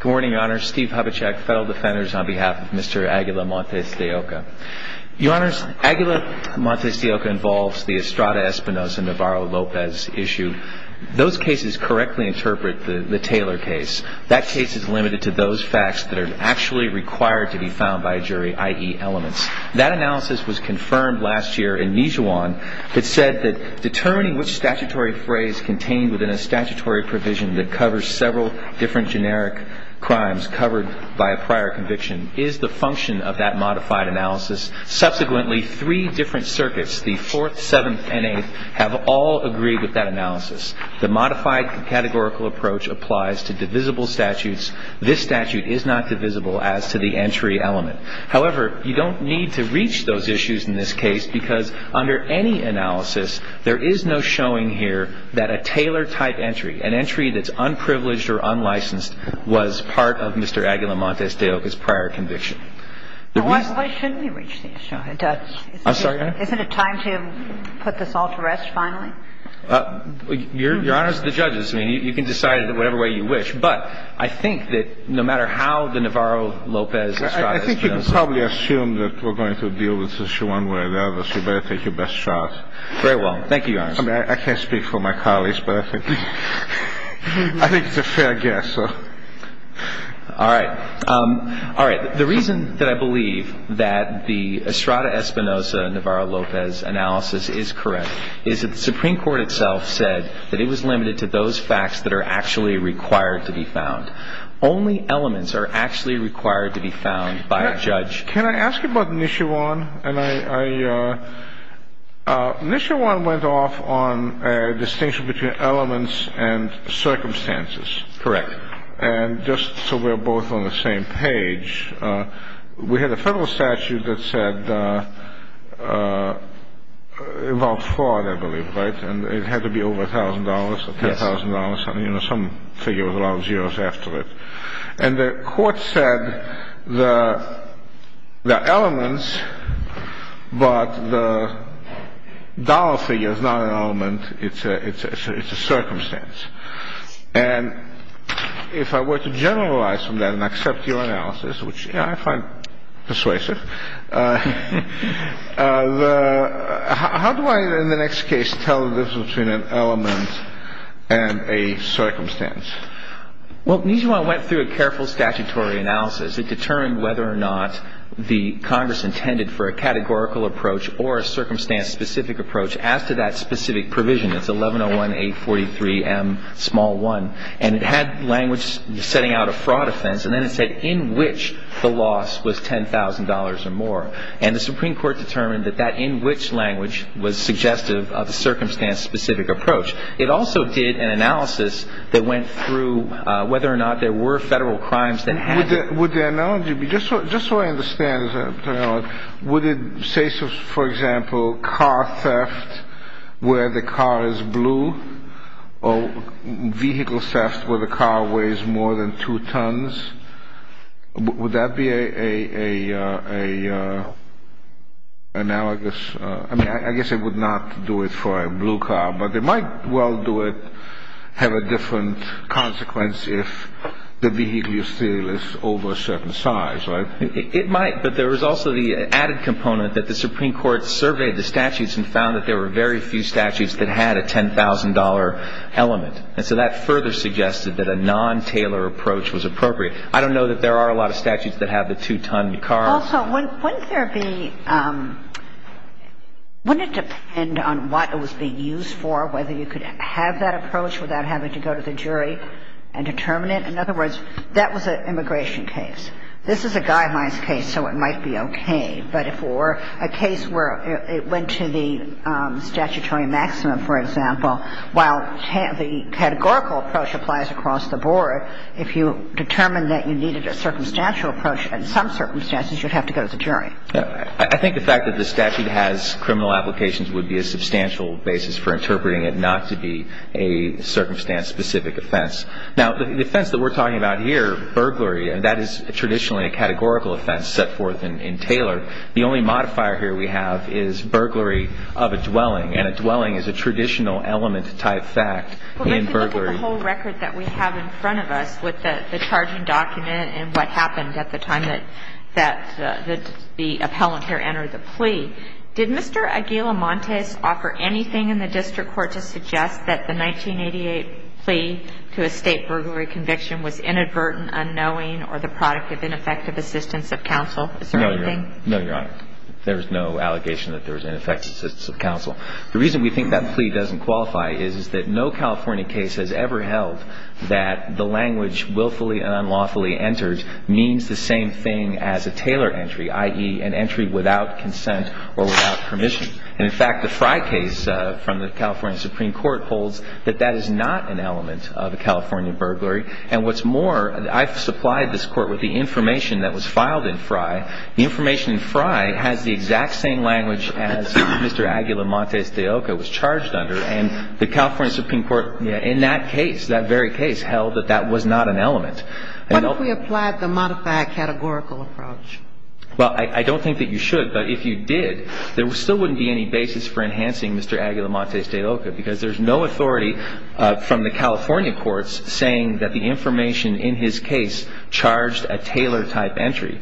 Good morning, Your Honor. Steve Hubachek, Federal Defenders, on behalf of Mr. Aguila-Montes De Oca. Your Honors, Aguila-Montes De Oca involves the Estrada Espinosa Navarro-Lopez issue. Those cases correctly interpret the Taylor case. That case is limited to those facts that are actually required to be found by a jury, i.e. elements. That analysis was confirmed last year in Mijuan, that said that determining which statutory phrase contained within a statutory provision that covers several different generic crimes covered by a prior conviction is the function of that modified analysis. Subsequently, three different circuits, the 4th, 7th, and 8th, have all agreed with that analysis. The modified categorical approach applies to divisible statutes. This statute is not divisible as to the entry element. However, you don't need to reach those issues in this case because under any analysis, there is no showing here that a Taylor-type entry, an entry that's unprivileged or unlicensed, was part of Mr. Aguila-Montes De Oca's prior conviction. Why shouldn't we reach the issue? I'm sorry, Your Honor? Isn't it time to put this all to rest finally? Your Honors, the judges, I mean, you can decide it whatever way you wish. But I think that no matter how the Navarro-Lopez Estrada Espinosa – I think you can probably assume that we're going to deal with this issue one way or the other. Very well. Thank you, Your Honor. I mean, I can't speak for my colleagues, but I think it's a fair guess. All right. All right. The reason that I believe that the Estrada Espinosa-Navarro-Lopez analysis is correct is that the Supreme Court itself said that it was limited to those facts that are actually required to be found. Only elements are actually required to be found by a judge. Can I ask you about Nishuon? Nishuon went off on a distinction between elements and circumstances. Correct. And just so we're both on the same page, we had a federal statute that said – involved fraud, I believe, right? And it had to be over $1,000 or $10,000. Some figure with a lot of zeros after it. And the court said the elements, but the dollar figure is not an element. It's a circumstance. And if I were to generalize from that and accept your analysis, which I find persuasive, how do I, in the next case, tell the difference between an element and a circumstance? Well, Nishuon went through a careful statutory analysis. It determined whether or not the Congress intended for a categorical approach or a circumstance-specific approach as to that specific provision. It's 1101-843-M-1. And it had language setting out a fraud offense. And then it said in which the loss was $10,000 or more. And the Supreme Court determined that that in which language was suggestive of the circumstance-specific approach. It also did an analysis that went through whether or not there were federal crimes that hadn't. Would the analogy be – just so I understand, would it say, for example, car theft where the car is blue or vehicle theft where the car weighs more than two tons? Would that be an analogous – I mean, I guess it would not do it for a blue car. But it might well do it, have a different consequence if the vehicle you steal is over a certain size, right? It might. But there was also the added component that the Supreme Court surveyed the statutes and found that there were very few statutes that had a $10,000 element. And so that further suggested that a non-tailor approach was appropriate. I don't know that there are a lot of statutes that have the two-ton car. Also, wouldn't there be – wouldn't it depend on what it was being used for, whether you could have that approach without having to go to the jury and determine it? In other words, that was an immigration case. This is a guidelines case, so it might be okay. But if it were a case where it went to the statutory maximum, for example, while the categorical approach applies across the board, if you determine that you needed a circumstantial approach in some circumstances, you'd have to go to the jury. I think the fact that the statute has criminal applications would be a substantial basis for interpreting it not to be a circumstance-specific offense. Now, the offense that we're talking about here, burglary, and that is traditionally a categorical offense set forth in Taylor. The only modifier here we have is burglary of a dwelling, and a dwelling is a traditional element-type fact in burglary. Well, let's look at the whole record that we have in front of us with the charging document and what happened at the time that the appellant here entered the plea. Did Mr. Aguilamontes offer anything in the district court to suggest that the 1988 plea to a state burglary conviction was inadvertent, unknowing, or the product of ineffective assistance of counsel? Is there anything? No, Your Honor. There is no allegation that there was ineffective assistance of counsel. The reason we think that plea doesn't qualify is that no California case has ever held that the language willfully and unlawfully entered means the same thing as a Taylor entry, i.e., an entry without consent or without permission. And, in fact, the Frye case from the California Supreme Court holds that that is not an element of a California burglary. And what's more, I've supplied this Court with the information that was filed in Frye. The information in Frye has the exact same language as Mr. Aguilamontes de Oca was charged under. And the California Supreme Court in that case, that very case, held that that was not an element. What if we applied the modified categorical approach? Well, I don't think that you should. But if you did, there still wouldn't be any basis for enhancing Mr. Aguilamontes de Oca because there's no authority from the California courts saying that the information in his case charged a Taylor-type entry.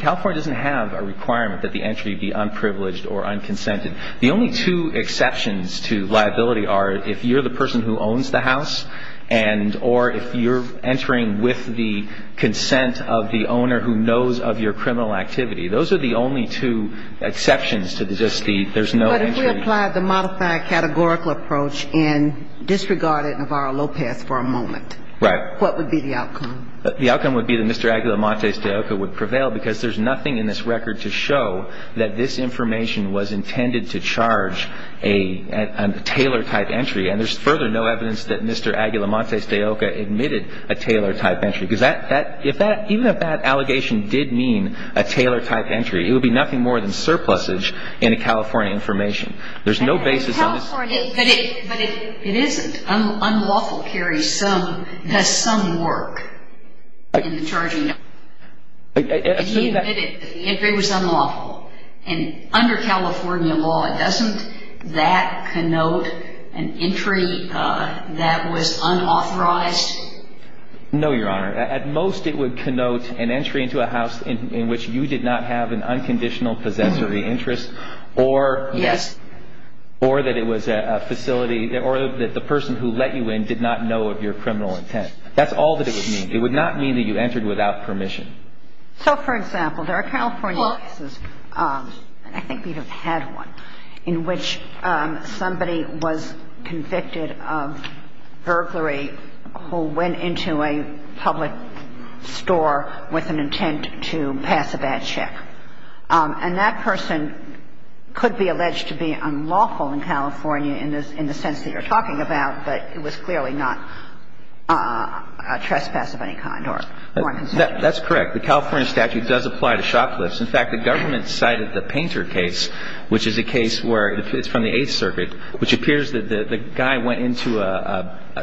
California doesn't have a requirement that the entry be unprivileged or unconsented. The only two exceptions to liability are if you're the person who owns the house and or if you're entering with the consent of the owner who knows of your criminal activity. Those are the only two exceptions to just the there's no entry. But if we applied the modified categorical approach and disregarded Navarro-Lopez for a moment, what would be the outcome? The outcome would be that Mr. Aguilamontes de Oca would prevail because there's nothing in this record to show that this information was intended to charge a Taylor-type entry. And there's further no evidence that Mr. Aguilamontes de Oca admitted a Taylor-type entry. Because that that if that even if that allegation did mean a Taylor-type entry, it would be nothing more than surplusage in a California information. There's no basis on this. But it isn't. Unlawful carries some, does some work in the charging. He admitted that the entry was unlawful. And under California law, doesn't that connote an entry that was unauthorized? No, Your Honor. At most it would connote an entry into a house in which you did not have an unconditional possessory interest or Yes. Or that it was a facility or that the person who let you in did not know of your criminal intent. That's all that it would mean. It would not mean that you entered without permission. So, for example, there are California cases, and I think we have had one, in which somebody was convicted of burglary who went into a public store with an intent to pass a bad check. And that person could be alleged to be unlawful in California in the sense that you're talking about, but it was clearly not a trespass of any kind or a foreign consultant. That's correct. The California statute does apply to shoplifts. In fact, the government cited the Painter case, which is a case where it's from the Eighth Circuit, which appears that the guy went into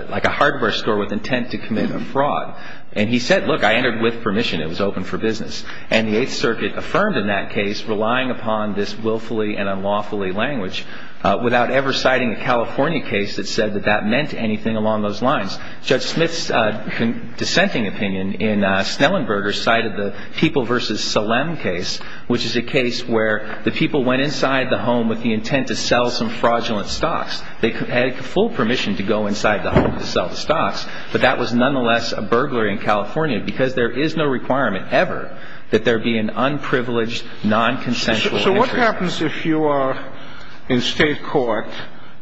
like a hardware store with intent to commit a fraud. And he said, look, I entered with permission. It was open for business. And the Eighth Circuit affirmed in that case, relying upon this willfully and unlawfully language, without ever citing a California case that said that that meant anything along those lines. Judge Smith's dissenting opinion in Snellenberger cited the People v. Solem case, which is a case where the people went inside the home with the intent to sell some fraudulent stocks. They had full permission to go inside the home to sell the stocks, but that was nonetheless a burglary in California because there is no requirement ever that there be an unprivileged, non-consensual entry. So what happens if you are in state court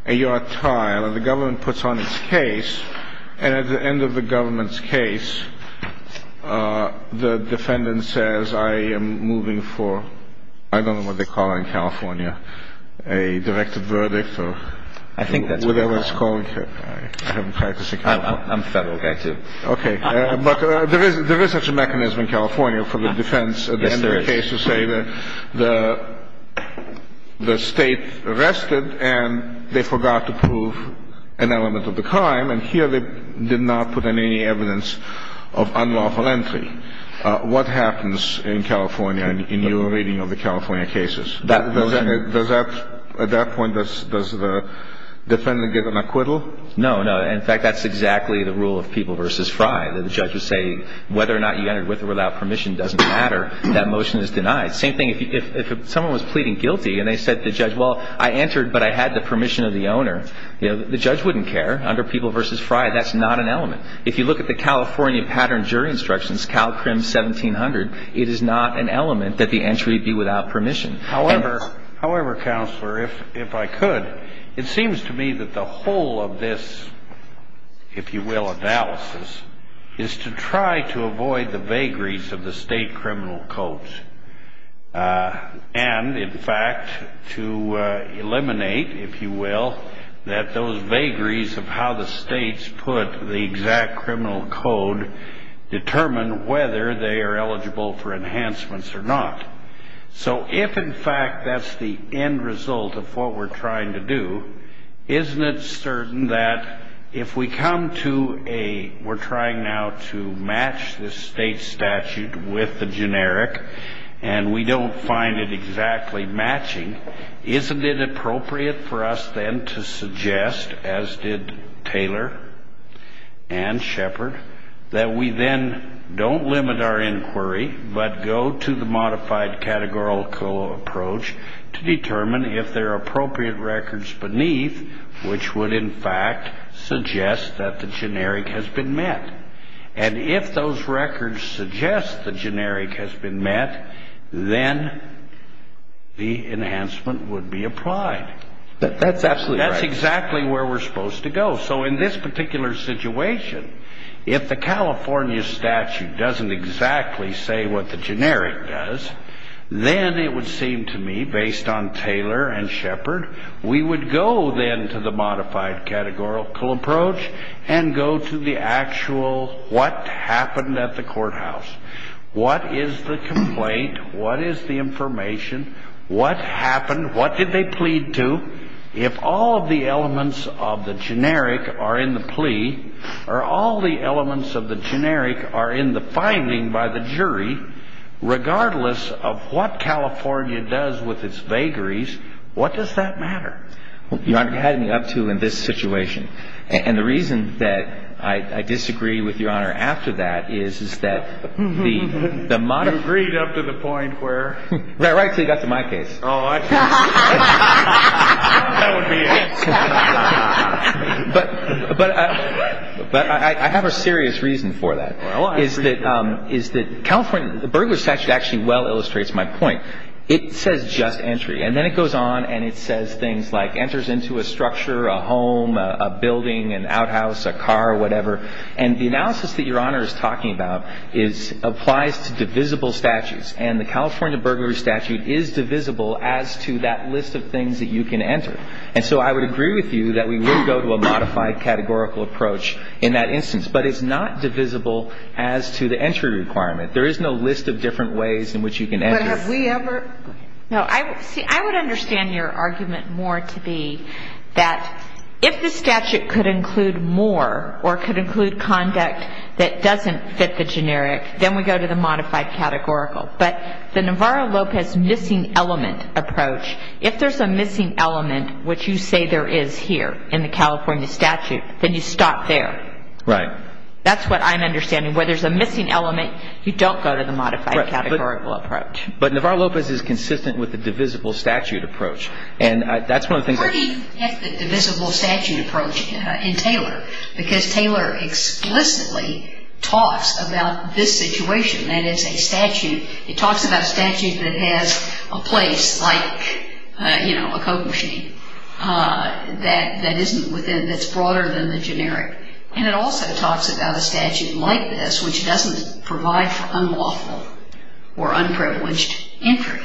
and you're a trial and the government puts on its case and at the end of the government's case, the defendant says, I am moving for, I don't know what they call it in California, a directive verdict or whatever it's called. I'm a federal guy too. Okay. But there is such a mechanism in California for the defense at the end of the case to say that the state arrested and they forgot to prove an element of the crime. And here they did not put in any evidence of unlawful entry. What happens in California in your reading of the California cases? At that point, does the defendant get an acquittal? No, no. In fact, that's exactly the rule of People v. Fry. The judge would say whether or not you entered with or without permission doesn't matter. That motion is denied. Same thing if someone was pleading guilty and they said to the judge, well, I entered, but I had the permission of the owner. The judge wouldn't care. Under People v. Fry, that's not an element. If you look at the California pattern jury instructions, CalCrim 1700, it is not an element that the entry be without permission. However, Counselor, if I could, it seems to me that the whole of this, if you will, analysis, is to try to avoid the vagaries of the state criminal codes and, in fact, to eliminate, if you will, that those vagaries of how the states put the exact criminal code determine whether they are eligible for enhancements or not. So if, in fact, that's the end result of what we're trying to do, isn't it certain that if we come to a we're trying now to match the state statute with the generic and we don't find it exactly matching, isn't it appropriate for us then to suggest, as did Taylor and Shepard, that we then don't limit our inquiry but go to the modified categorical approach to determine if there are appropriate records beneath which would, in fact, suggest that the generic has been met. And if those records suggest the generic has been met, then the enhancement would be applied. That's absolutely right. That's exactly where we're supposed to go. So in this particular situation, if the California statute doesn't exactly say what the generic does, then it would seem to me, based on Taylor and Shepard, we would go then to the modified categorical approach and go to the actual what happened at the courthouse. What is the complaint? What is the information? What happened? What did they plead to? If all of the elements of the generic are in the plea or all the elements of the generic are in the finding by the jury, regardless of what California does with its vagaries, what does that matter? Your Honor, you had me up to in this situation. And the reason that I disagree with Your Honor after that is, is that the modern ---- You agreed up to the point where? That's right until you got to my case. Oh, I see. That would be it. But I have a serious reason for that. Well, I agree. Is that California ---- The Burglar's Statute actually well illustrates my point. It says just entry. And then it goes on and it says things like enters into a structure, a home, a building, an outhouse, a car, whatever. And the analysis that Your Honor is talking about applies to divisible statutes. And the California Burglar's Statute is divisible as to that list of things that you can enter. And so I would agree with you that we would go to a modified categorical approach in that instance. But it's not divisible as to the entry requirement. There is no list of different ways in which you can enter. But have we ever ---- No. See, I would understand your argument more to be that if the statute could include more or could include conduct that doesn't fit the generic, then we go to the modified categorical. But the Navarro-Lopez missing element approach, if there's a missing element, which you say there is here in the California statute, then you stop there. Right. That's what I'm understanding. Where there's a missing element, you don't go to the modified categorical approach. But Navarro-Lopez is consistent with the divisible statute approach. And that's one of the things that ---- Where do you get the divisible statute approach in Taylor? Because Taylor explicitly talks about this situation, that it's a statute. It talks about a statute that has a place like, you know, a coke machine that isn't within ---- that's broader than the generic. And it also talks about a statute like this which doesn't provide for unlawful or unprivileged entry.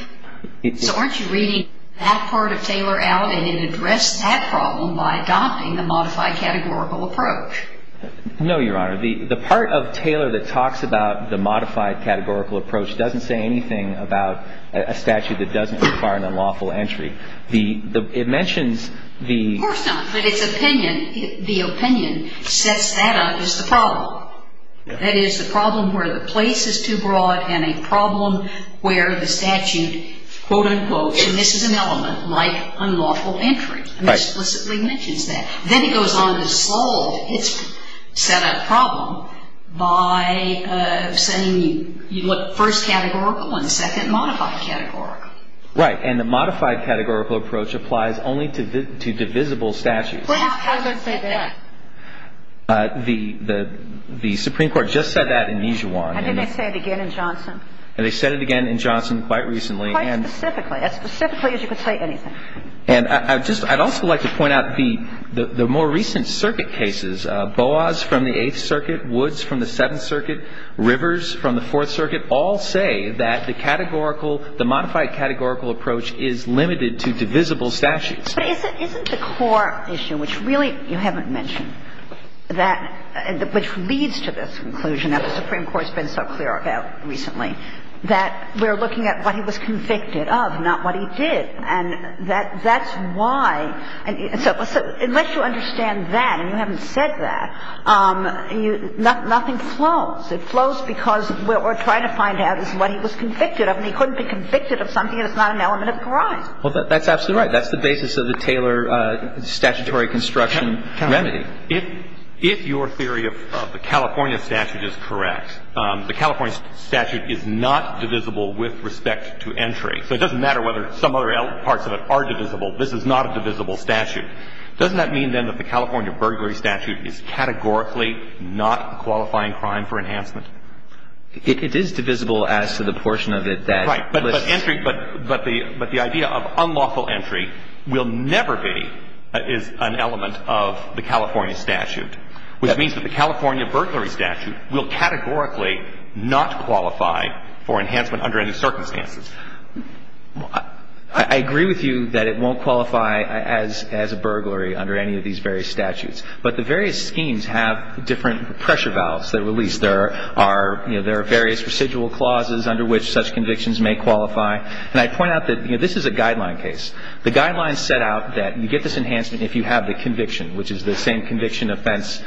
So aren't you reading that part of Taylor out? No, Your Honor. The part of Taylor that talks about the modified categorical approach doesn't say anything about a statute that doesn't require an unlawful entry. It mentions the ---- Of course not. But its opinion, the opinion, sets that up as the problem. That is, the problem where the place is too broad and a problem where the statute And this is an element like unlawful entry. It explicitly mentions that. Then it goes on to solve its set-up problem by saying you look first categorical and second modified categorical. Right. And the modified categorical approach applies only to divisible statutes. Well, how does it say that? The Supreme Court just said that in Mijuan. How did they say it again in Johnson? They said it again in Johnson quite recently. Quite specifically. As specifically as you can say anything. And I'd also like to point out the more recent circuit cases. Boas from the Eighth Circuit, Woods from the Seventh Circuit, Rivers from the Fourth Circuit all say that the categorical, the modified categorical approach is limited to divisible statutes. But isn't the core issue, which really you haven't mentioned, which leads to this conclusion that the Supreme Court's been so clear about recently, that we're looking at what he was convicted of, not what he did. And that's why. So unless you understand that and you haven't said that, nothing flows. It flows because what we're trying to find out is what he was convicted of. And he couldn't be convicted of something that's not an element of grime. Well, that's absolutely right. That's the basis of the Taylor statutory construction remedy. If your theory of the California statute is correct, the California statute is not divisible with respect to entry. So it doesn't matter whether some other parts of it are divisible. This is not a divisible statute. Doesn't that mean, then, that the California burglary statute is categorically not a qualifying crime for enhancement? It is divisible as to the portion of it that lists. Right. But the idea of unlawful entry will never be an element of the California statute, which means that the California burglary statute will categorically not qualify for enhancement under any circumstances. I agree with you that it won't qualify as a burglary under any of these various statutes. But the various schemes have different pressure valves that are released. There are various residual clauses under which such convictions may qualify. And I point out that this is a guideline case. The guidelines set out that you get this enhancement if you have the conviction, which is the same conviction offense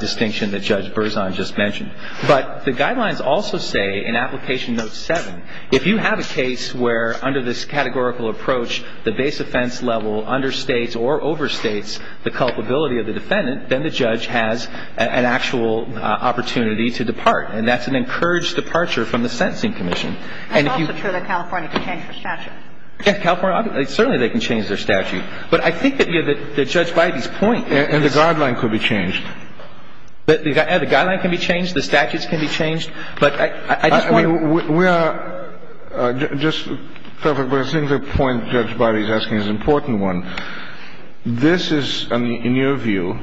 distinction that Judge Berzon just mentioned. But the guidelines also say in Application Note 7, if you have a case where under this categorical approach the base offense level of the defendant is not qualified for enhancement, then the judge has an actual opportunity to depart. And that's an encouraged departure from the Sentencing Commission. It's also true that California can change their statute. Yes. California, certainly they can change their statute. But I think that, you know, that Judge Bidey's point is the guideline could be changed. The guideline can be changed. The statutes can be changed. But I just want to – We are – just – I think the point Judge Bidey's asking is an important one. This is, in your view,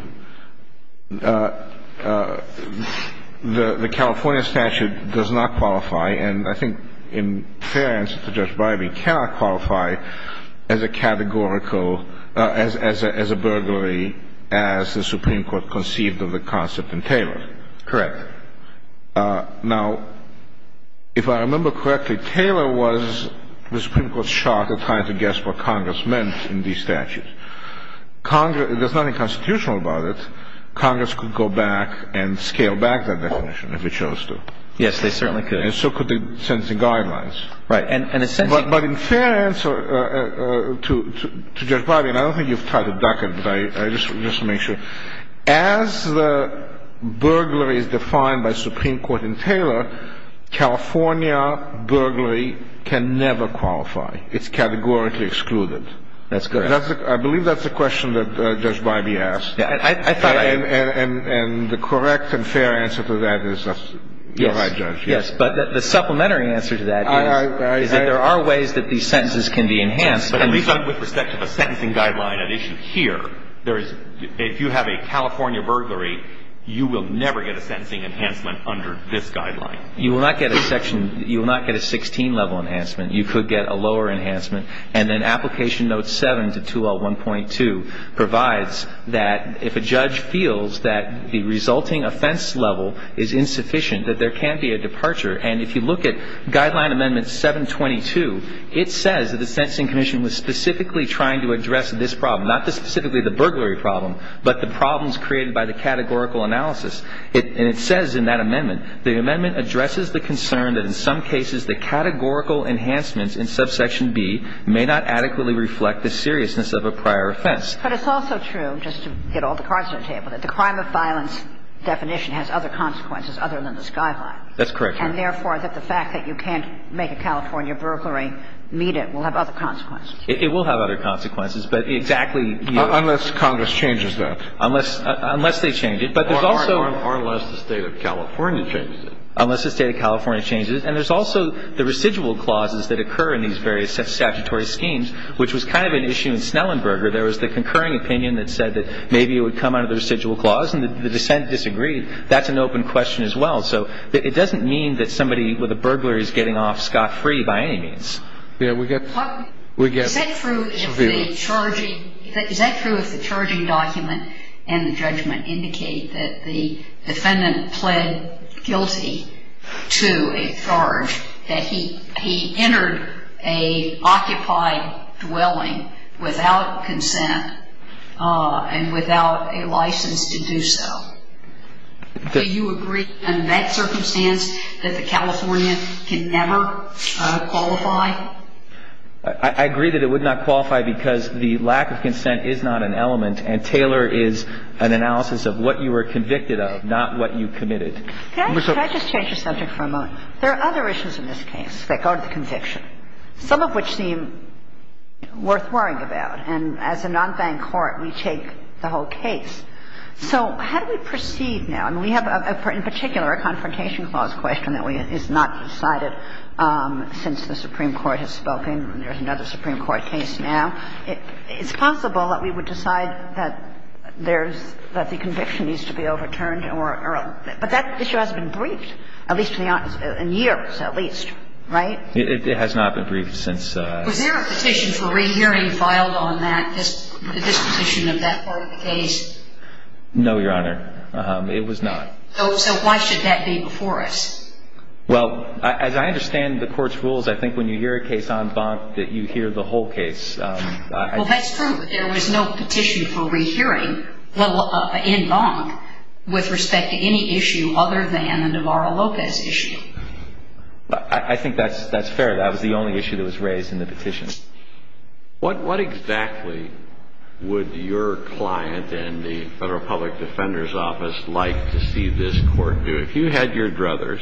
the California statute does not qualify, and I think in fair answer to Judge Bidey, cannot qualify as a categorical – as a burglary as the Supreme Court conceived of the concept in Taylor. Correct. Now, if I remember correctly, Taylor was the Supreme Court's shot at trying to guess what Congress meant in these statutes. Congress – there's nothing constitutional about it. Congress could go back and scale back that definition if it chose to. Yes, they certainly could. And so could the sentencing guidelines. Right. And a sentencing – But in fair answer to Judge Bidey, and I don't think you've tried to duck it, but I just want to make sure. As the burglary is defined by Supreme Court in Taylor, California burglary can never qualify. It's categorically excluded. That's correct. I believe that's the question that Judge Bidey asked. I thought I – And the correct and fair answer to that is – you're right, Judge. Yes. But the supplementary answer to that is that there are ways that these sentences can be enhanced. With respect to the sentencing guideline at issue here, there is – if you have a California burglary, you will never get a sentencing enhancement under this guideline. You will not get a section – you will not get a 16-level enhancement. You could get a lower enhancement. And then Application Note 7 to 2L1.2 provides that if a judge feels that the resulting offense level is insufficient, that there can be a departure. And if you look at Guideline Amendment 722, it says that the Sentencing Commission was specifically trying to address this problem, not specifically the burglary problem, but the problems created by the categorical analysis. And it says in that amendment, the amendment addresses the concern that in some cases, the categorical enhancements in subsection B may not adequately reflect the seriousness of a prior offense. But it's also true, just to get all the cards to the table, that the crime of violence definition has other consequences other than this guideline. That's correct, Your Honor. And therefore, that the fact that you can't make a California burglary meet it will have other consequences. It will have other consequences. But exactly – Unless Congress changes that. Unless they change it. But there's also – Or unless the State of California changes it. Unless the State of California changes it. And there's also the residual clauses that occur in these various statutory schemes, which was kind of an issue in Snellenberger. There was the concurring opinion that said that maybe it would come under the residual clause, and the dissent disagreed. That's an open question as well. So it doesn't mean that somebody with a burglary is getting off scot-free by any means. Yeah, we get – Is that true if the charging – Is that true if the charging document and the judgment indicate that the defendant pled guilty to a charge, that he entered an occupied dwelling without consent and without a license to do so? Do you agree in that circumstance that the California can never qualify? I agree that it would not qualify because the lack of consent is not an element, and Taylor is an analysis of what you were convicted of, not what you committed. Can I just change the subject for a moment? There are other issues in this case that go to the conviction, some of which seem worth worrying about. And as a non-bank court, we take the whole case. So how do we proceed now? I mean, we have, in particular, a Confrontation Clause question that is not decided since the Supreme Court has spoken. There's another Supreme Court case now. It's possible that we would decide that there's – that the conviction needs to be overturned or – but that issue hasn't been briefed, at least in years, at least. Right? It has not been briefed since – Was there a petition for rehearing filed on that, this petition of that part of the case? No, Your Honor. It was not. So why should that be before us? Well, as I understand the Court's rules, I think when you hear a case en banc that you hear the whole case. Well, that's true. There was no petition for rehearing in banc with respect to any issue other than the Navarro-Lopez issue. I think that's fair. That was the only issue that was raised in the petition. What exactly would your client and the Federal Public Defender's Office like to see this Court do? If you had your druthers,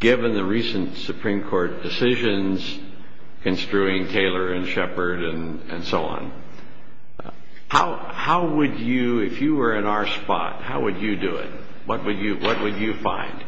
given the recent Supreme Court decisions construing Taylor and Shepard and so on, how would you – if you were in our spot, how would you do it? What would you find?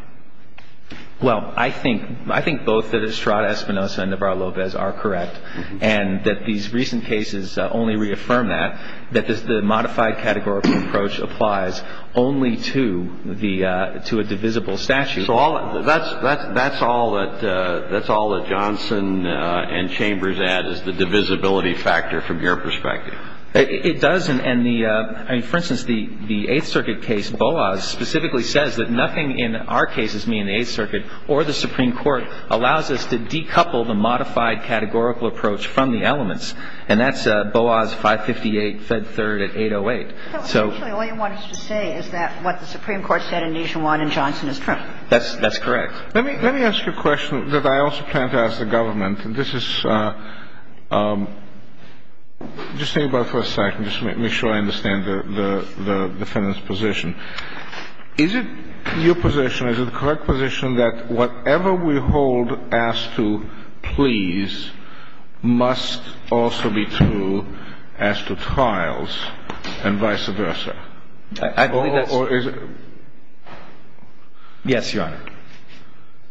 Well, I think both Estrada-Espinosa and Navarro-Lopez are correct, and that these recent cases only reaffirm that, that the modified categorical approach applies only to a divisible statute. So that's all that Johnson and Chambers add is the divisibility factor from your perspective. It does. For instance, the Eighth Circuit case, Boas, specifically says that nothing in our cases, meaning the Eighth Circuit or the Supreme Court, allows us to decouple the modified categorical approach from the elements. And that's Boas 558, Fed Third at 808. So essentially all you want us to say is that what the Supreme Court said in Nation 1 in Johnson is true. That's correct. Let me ask you a question that I also plan to ask the government. This is – just think about it for a second. Just to make sure I understand the defendant's position. Is it your position, is it the correct position, that whatever we hold as to pleas must also be true as to trials and vice versa? I believe that's – Or is it – Yes, Your Honor.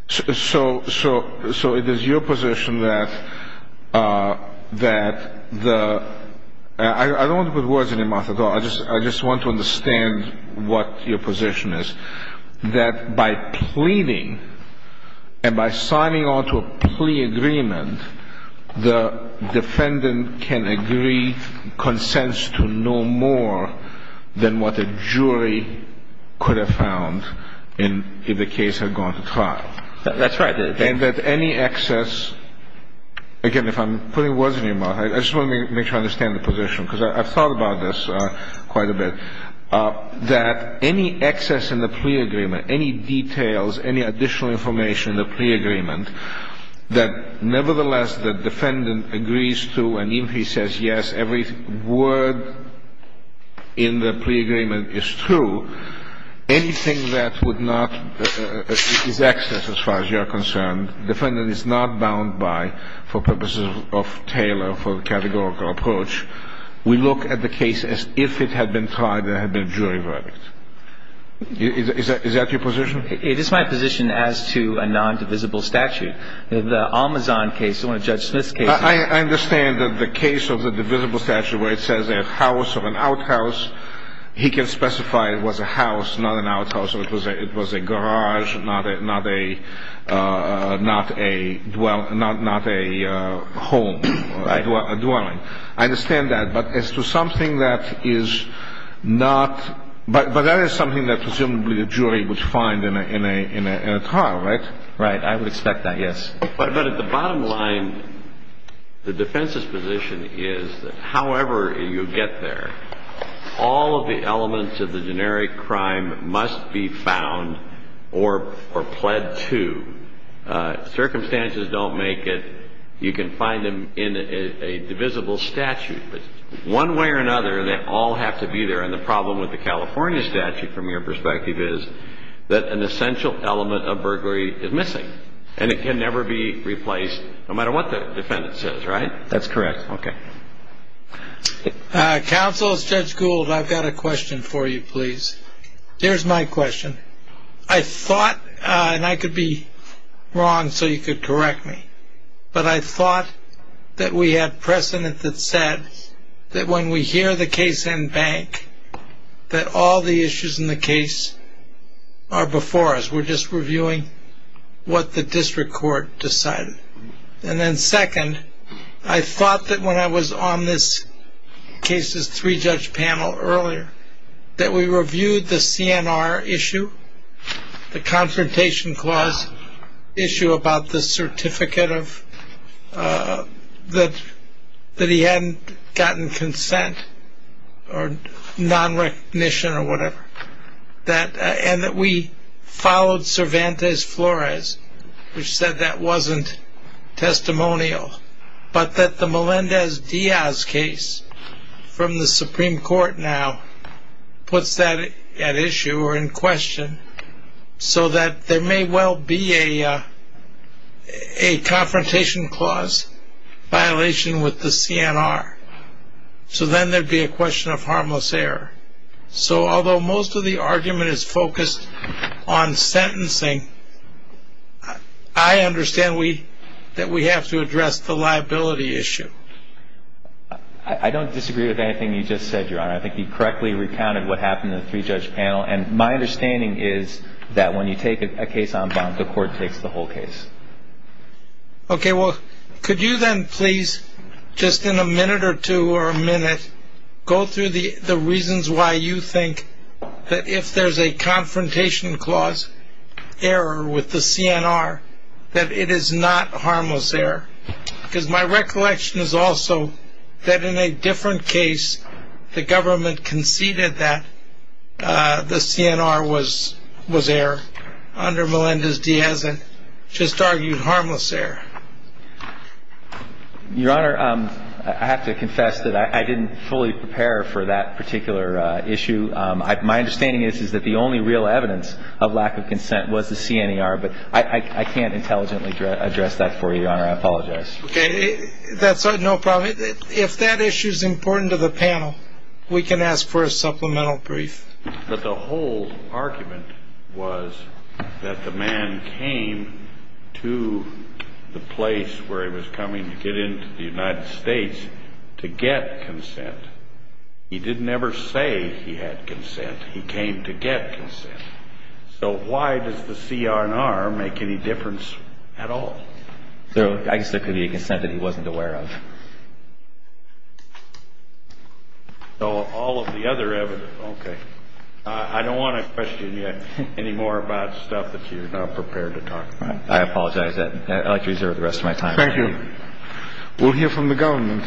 So it is your position that the – I don't want to put words in your mouth at all. I just want to understand what your position is, that by pleading and by signing on to a plea agreement, the defendant can agree, consents to no more than what a jury could have found if the case had gone to trial? That's right. And that any excess – again, if I'm putting words in your mouth, I just want to make sure I understand the position because I've thought about this quite a bit. That any excess in the plea agreement, any details, any additional information in the plea agreement, that nevertheless the defendant agrees to, and even if he says yes, every word in the plea agreement is true, anything that would not – is excess as far as you're concerned, defendant is not bound by for purposes of Taylor, for the categorical approach, we look at the case as if it had been tried and had been jury verdict. Is that your position? It is my position as to a nondivisible statute. The Almazon case, one of Judge Smith's cases – I understand that the case of the divisible statute where it says a house or an outhouse, he can specify it was a house, not an outhouse, or it was a garage, not a dwelling. I understand that, but as to something that is not – But that is something that presumably the jury would find in a trial, right? Right. I would expect that, yes. But at the bottom line, the defense's position is that however you get there, all of the elements of the generic crime must be found or pled to. Circumstances don't make it. You can find them in a divisible statute, but one way or another, they all have to be there, and the problem with the California statute, from your perspective, is that an essential element of burglary is missing, and it can never be replaced, no matter what the defendant says, right? That's correct. Counsel, Judge Gould, I've got a question for you, please. Here's my question. I thought – and I could be wrong, so you could correct me – but I thought that we had precedent that said that when we hear the case in bank, that all the issues in the case are before us. We're just reviewing what the district court decided. And then second, I thought that when I was on this case's three-judge panel earlier, that we reviewed the CNR issue, the Confrontation Clause issue, about the certificate that he hadn't gotten consent or nonrecognition or whatever, and that we followed Cervantes-Flores, which said that wasn't testimonial, but that the Melendez-Diaz case from the Supreme Court now puts that at issue or in question so that there may well be a Confrontation Clause violation with the CNR. So then there'd be a question of harmless error. So although most of the argument is focused on sentencing, I understand that we have to address the liability issue. I don't disagree with anything you just said, Your Honor. I think you correctly recounted what happened in the three-judge panel. And my understanding is that when you take a case on bond, the court takes the whole case. Okay. Well, could you then please, just in a minute or two or a minute, go through the reasons why you think that if there's a Confrontation Clause error with the CNR, that it is not harmless error? Because my recollection is also that in a different case, the government conceded that the CNR was error under Melendez-Diaz and just argued harmless error. Your Honor, I have to confess that I didn't fully prepare for that particular issue. My understanding is that the only real evidence of lack of consent was the CNER, but I can't intelligently address that for you, Your Honor. I apologize. Okay. That's no problem. If that issue is important to the panel, we can ask for a supplemental brief. But the whole argument was that the man came to the place where he was coming to get into the United States to get consent. He didn't ever say he had consent. He came to get consent. So why does the CNR make any difference at all? I guess there could be a consent that he wasn't aware of. So all of the other evidence. Okay. I don't want to question you any more about stuff that you're not prepared to talk about. I apologize. I'd like to reserve the rest of my time. Thank you. We'll hear from the government.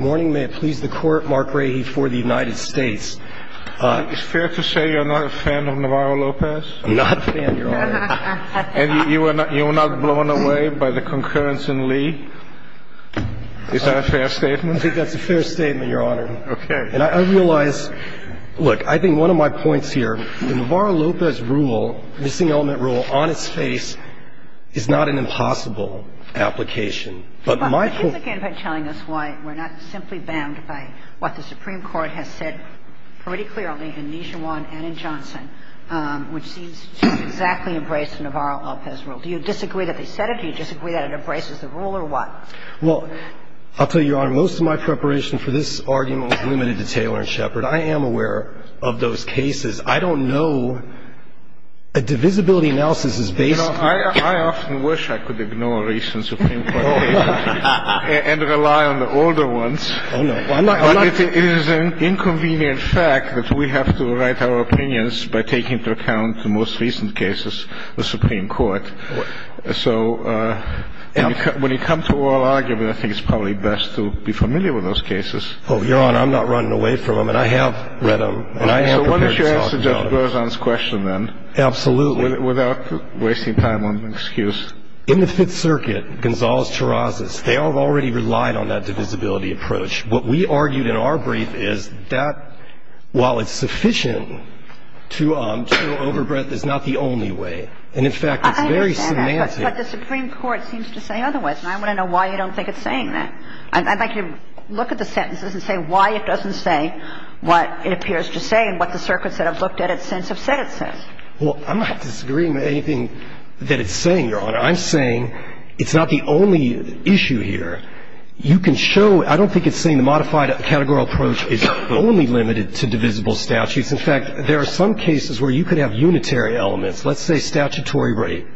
Morning. May it please the Court. Mark Rahe for the United States. Is it fair to say you're not a fan of Navarro-Lopez? I'm not a fan, Your Honor. And you were not blown away by the concurrence in Lee? Is that a fair statement? I think that's a fair statement, Your Honor. I'm going to go back to the question that was raised earlier. The Navarro-Lopez rule, missing element rule, on its face is not an impossible application. But my point -- But you've, again, been telling us why we're not simply bound by what the Supreme Court has said pretty clearly in Nijuan and in Johnson, which seems to exactly embrace Navarro-Lopez rule. Do you disagree that they said it? Do you disagree that it embraces the rule or what? Well, I'll tell you, Your Honor, most of my preparation for this argument was limited to Taylor and Shepard. I am aware of those cases. I don't know. A divisibility analysis is basically- I often wish I could ignore recent Supreme Court cases and rely on the older ones. Oh, no. I'm not- It is an inconvenient fact that we have to write our opinions by taking into account the most recent cases, the Supreme Court. So when you come to oral argument, I think it's probably best to be familiar with those cases. Oh, Your Honor, I'm not running away from them. And I have read them. And I have prepared this argument. So why don't you answer Judge Berzon's question then- Absolutely. --without wasting time on excuse. In the Fifth Circuit, Gonzales-Chirazas, they have already relied on that divisibility approach. What we argued in our brief is that while it's sufficient to show overbreadth is not the only way. And in fact, it's very semantic- I understand that. But the Supreme Court seems to say otherwise. And I want to know why you don't think it's saying that. I'd like you to look at the sentences and say why it doesn't say what it appears to say and what the circuits that have looked at it since have said it says. Well, I'm not disagreeing with anything that it's saying, Your Honor. I'm saying it's not the only issue here. You can show – I don't think it's saying the modified categorical approach is only limited to divisible statutes. In fact, there are some cases where you could have unitary elements. Let's say statutory rape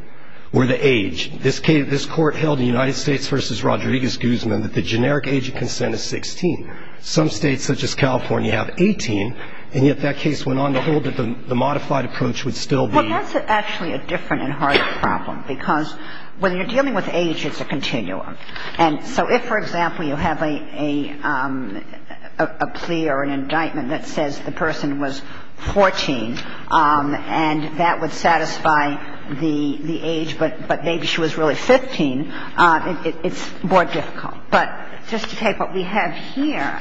or the age. This Court held in the United States v. Rodriguez-Guzman that the generic age of consent is 16. Some states such as California have 18, and yet that case went on to hold that the modified approach would still be- Well, that's actually a different and harder problem, because when you're dealing with age, it's a continuum. And so if, for example, you have a plea or an indictment that says the person was 14 and that would satisfy the age, but maybe she was really 15, it's more difficult. But just to take what we have here,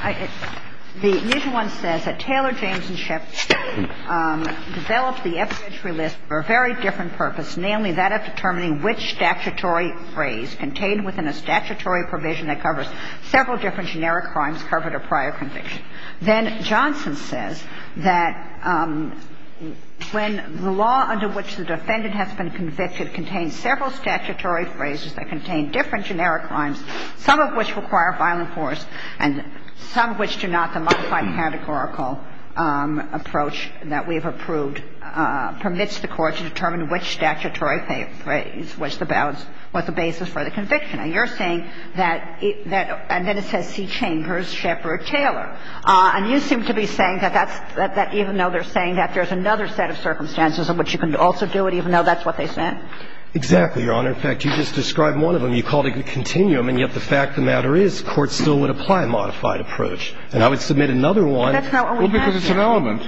the initial one says that Taylor, James and Schiff developed the evidentiary list for a very different purpose, namely that of determining which statutory phrase contained within a statutory provision that covers several different generic crimes covered a prior conviction. Then Johnson says that when the law under which the defendant has been convicted contains several statutory phrases that contain different generic crimes, some of which require violent force and some of which do not, the modified categorical approach that we have approved permits the Court to determine which statutory phrase was the basis for the conviction. And you're saying that it – and then it says C. Chambers, Schiff or Taylor. And you seem to be saying that that's – that even though they're saying that there's another set of circumstances in which you can also do it, even though that's what they said? Exactly, Your Honor. In fact, you just described one of them. You called it a continuum, and yet the fact of the matter is courts still would apply a modified approach. And I would submit another one- But that's not what we have here. Well, because it's an element.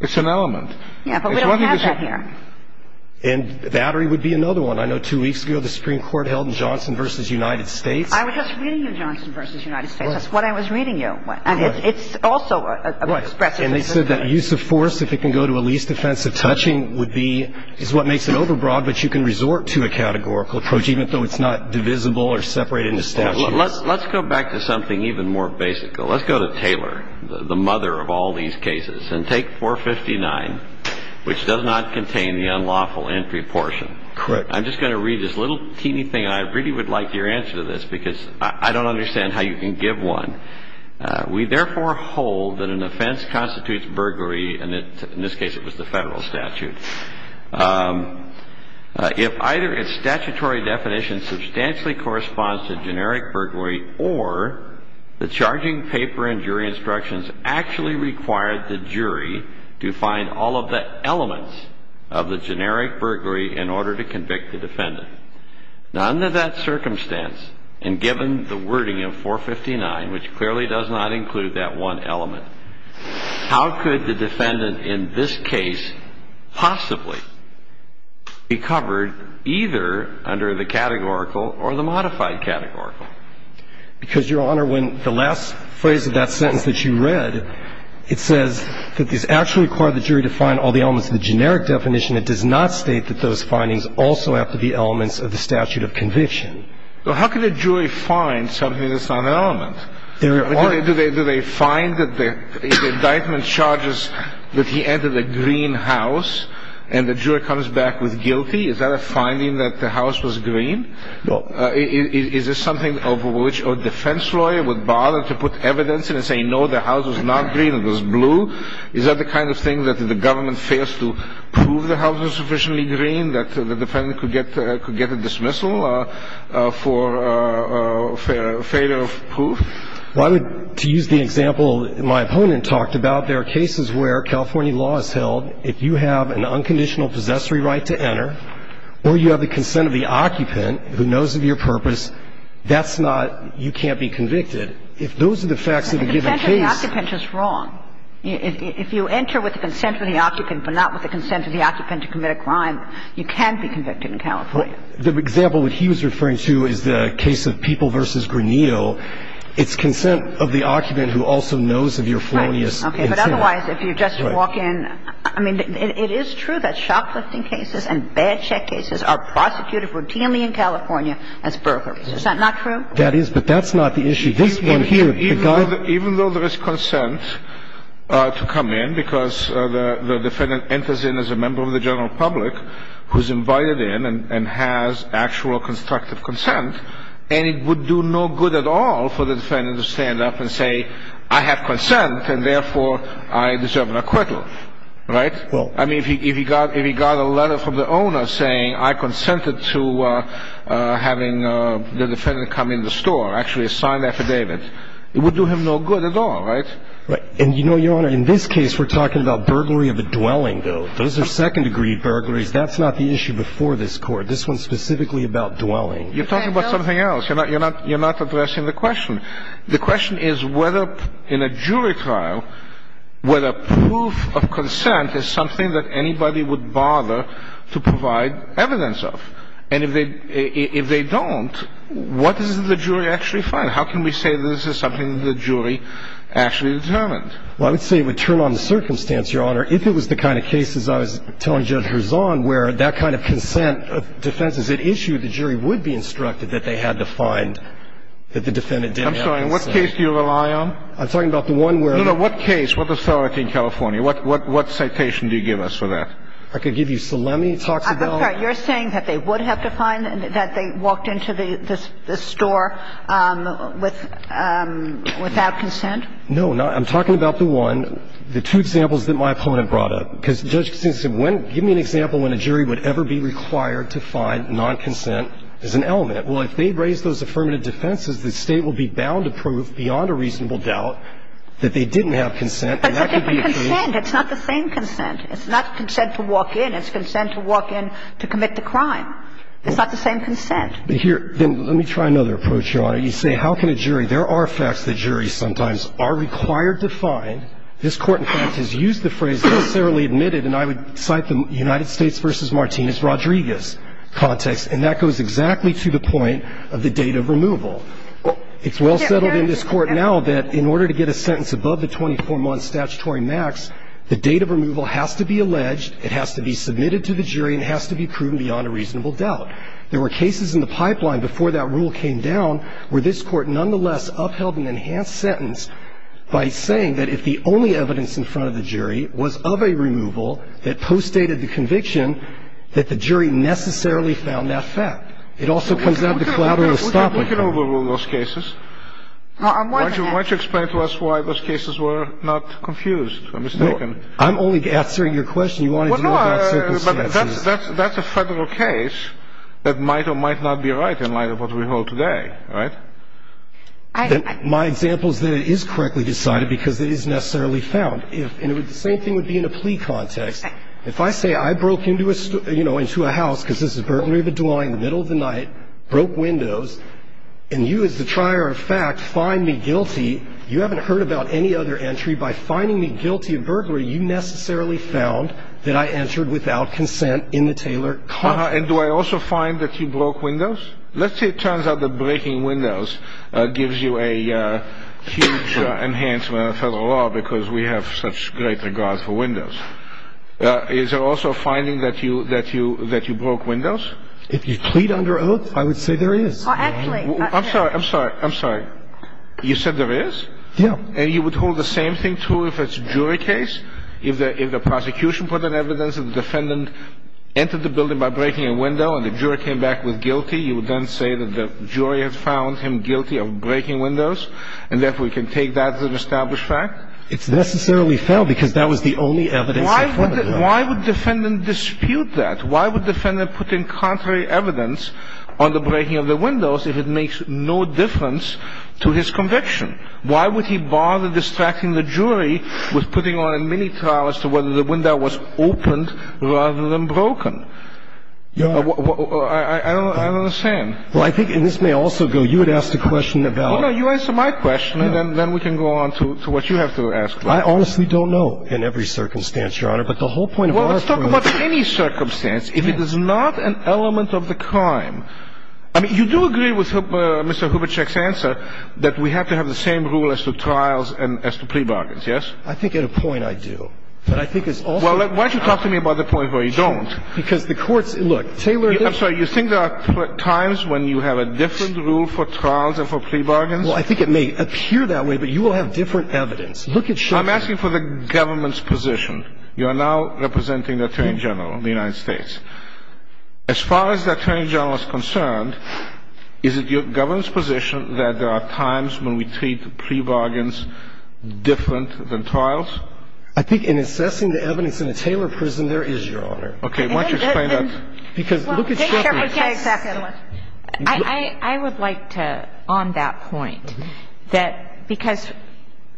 It's an element. Yeah, but we don't have that here. And Battery would be another one. I know two weeks ago the Supreme Court held in Johnson v. United States. I was just reading you Johnson v. United States. That's what I was reading you. And it's also expressive. Right. And they said that use of force, if it can go to a least offensive touching, would be – is what makes it overbroad, but you can resort to a categorical approach, even though it's not divisible or separated into statutes. Let's go back to something even more basic. Let's go to Taylor, the mother of all these cases. And take 459, which does not contain the unlawful entry portion. Correct. I'm just going to read this little teeny thing. I really would like your answer to this, because I don't understand how you can give one. We therefore hold that an offense constitutes burglary, and in this case it was the Federal statute. If either its statutory definition substantially corresponds to generic burglary or the charging paper and jury instructions actually required the jury to find all of the elements of the generic burglary in order to convict the defendant. Now, under that circumstance, and given the wording of 459, which clearly does not include that one element, how could the defendant in this case possibly be covered either under the categorical or the modified categorical? Because, Your Honor, when the last phrase of that sentence that you read, it says that this actually required the jury to find all the elements of the generic definition. It does not state that those findings also have to be elements of the statute of conviction. Well, how could a jury find something that's not an element? There are. Do they find that the indictment charges that he entered a green house and the jury comes back with guilty? Is that a finding that the house was green? Is this something over which a defense lawyer would bother to put evidence in and say, no, the house was not green, it was blue? Is that the kind of thing that if the government fails to prove the house was sufficiently green that the defendant could get a dismissal for failure of proof? Well, I would, to use the example my opponent talked about, there are cases where the California law is held, if you have an unconditional possessory right to enter or you have the consent of the occupant who knows of your purpose, that's not you can't be convicted. If those are the facts of a given case. But the consent of the occupant is wrong. If you enter with the consent of the occupant but not with the consent of the occupant to commit a crime, you can be convicted in California. The example that he was referring to is the case of People v. Granito. It's consent of the occupant who also knows of your felonious intent. Okay. But otherwise, if you just walk in – I mean, it is true that shoplifting cases and bad check cases are prosecuted routinely in California as burglaries. Is that not true? That is. But that's not the issue. This one here. Even though there is consent to come in, because the defendant enters in as a member of the general public who's invited in and has actual constructive consent, and it would do no good at all for the defendant to stand up and say, I have consent and therefore I deserve an acquittal. Right? Well – I mean, if he got a letter from the owner saying, I consented to having the defendant come in the store, actually sign the affidavit, it would do him no good at all, right? Right. And you know, Your Honor, in this case, we're talking about burglary of a dwelling, though. Those are second-degree burglaries. That's not the issue before this Court. This one's specifically about dwelling. You're talking about something else. You're not addressing the question. The question is whether in a jury trial, whether proof of consent is something that anybody would bother to provide evidence of. And if they don't, what does the jury actually find? How can we say this is something the jury actually determined? Well, I would say it would turn on the circumstance, Your Honor. If it was the kind of cases I was telling Judge Herzon where that kind of consent defense is at issue, the jury would be instructed that they had to find that the defendant didn't have consent. I'm sorry. In what case do you rely on? I'm talking about the one where the ---- No, no. What case? What facility in California? What citation do you give us for that? I could give you Salemi talks about ---- I'm sorry. You're saying that they would have to find that they walked into the store without consent? No. I'm talking about the one, the two examples that my opponent brought up. Because Judge Kassinsky said, when ---- give me an example when a jury would ever be required to find nonconsent as an element. Well, if they raise those affirmative defenses, the State will be bound to prove beyond a reasonable doubt that they didn't have consent. And that could be a case ---- But it's a different consent. It's not the same consent. It's not consent to walk in. It's consent to walk in to commit the crime. It's not the same consent. But here ---- let me try another approach, Your Honor. You say, how can a jury ---- there are facts that juries sometimes are required to find. This Court, in fact, has used the phrase, necessarily admitted, and I would cite the United States v. Martinez Rodriguez context. And that goes exactly to the point of the date of removal. It's well settled in this Court now that in order to get a sentence above the 24-month statutory max, the date of removal has to be alleged, it has to be submitted to the jury, and it has to be proven beyond a reasonable doubt. There were cases in the pipeline before that rule came down where this Court nonetheless upheld an enhanced sentence by saying that if the only evidence in front of the jury was of a removal that postdated the conviction, that the jury necessarily found that fact. It also comes down to collateral estoppel. We can overrule those cases. Why don't you explain to us why those cases were not confused or mistaken? I'm only answering your question. You want to know what that circumstance is. But that's a Federal case that might or might not be right in light of what we hold today, right? My example is that it is correctly decided because it is necessarily found. And the same thing would be in a plea context. If I say I broke into a house because this is a burglary of a dwelling in the middle of the night, broke windows, and you as the trier of fact find me guilty, you haven't heard about any other entry. By finding me guilty of burglary, you necessarily found that I entered without consent in the tailored context. And do I also find that you broke windows? Let's say it turns out that breaking windows gives you a huge enhancement on Federal law because we have such great regard for windows. Is there also a finding that you broke windows? If you plead under oath, I would say there is. Actually, I'm sorry. I'm sorry. I'm sorry. You said there is? Yeah. And you would hold the same thing true if it's a jury case? If the prosecution put in evidence that the defendant entered the building by breaking a window and the jury came back with guilty, you would then say that the jury has found him guilty of breaking windows? And therefore, you can take that as an established fact? It's necessarily found because that was the only evidence in front of him. Why would the defendant dispute that? Why would the defendant put in contrary evidence on the breaking of the windows if it makes no difference to his conviction? Why would he bother distracting the jury with putting on a mini-trial as to whether the window was opened rather than broken? I don't understand. Well, I think, and this may also go, you had asked a question about You answer my question and then we can go on to what you have to ask. I honestly don't know. In every circumstance, Your Honor. But the whole point of our point is Well, let's talk about any circumstance. If it is not an element of the crime. I mean, you do agree with Mr. Hubercheck's answer that we have to have the same rule as to trials and as to plea bargains, yes? I think at a point I do. But I think it's also Well, why don't you talk to me about the point where you don't? Because the courts, look, Taylor I'm sorry. You think there are times when you have a different rule for trials and for plea bargains? Well, I think it may appear that way, but you will have different evidence. Look at I'm asking for the government's position. You are now representing the Attorney General of the United States. As far as the Attorney General is concerned, is it your government's position that there are times when we treat plea bargains different than trials? I think in assessing the evidence in the Taylor prison, there is, Your Honor. Okay. Why don't you explain that? Because look at I would like to, on that point, that because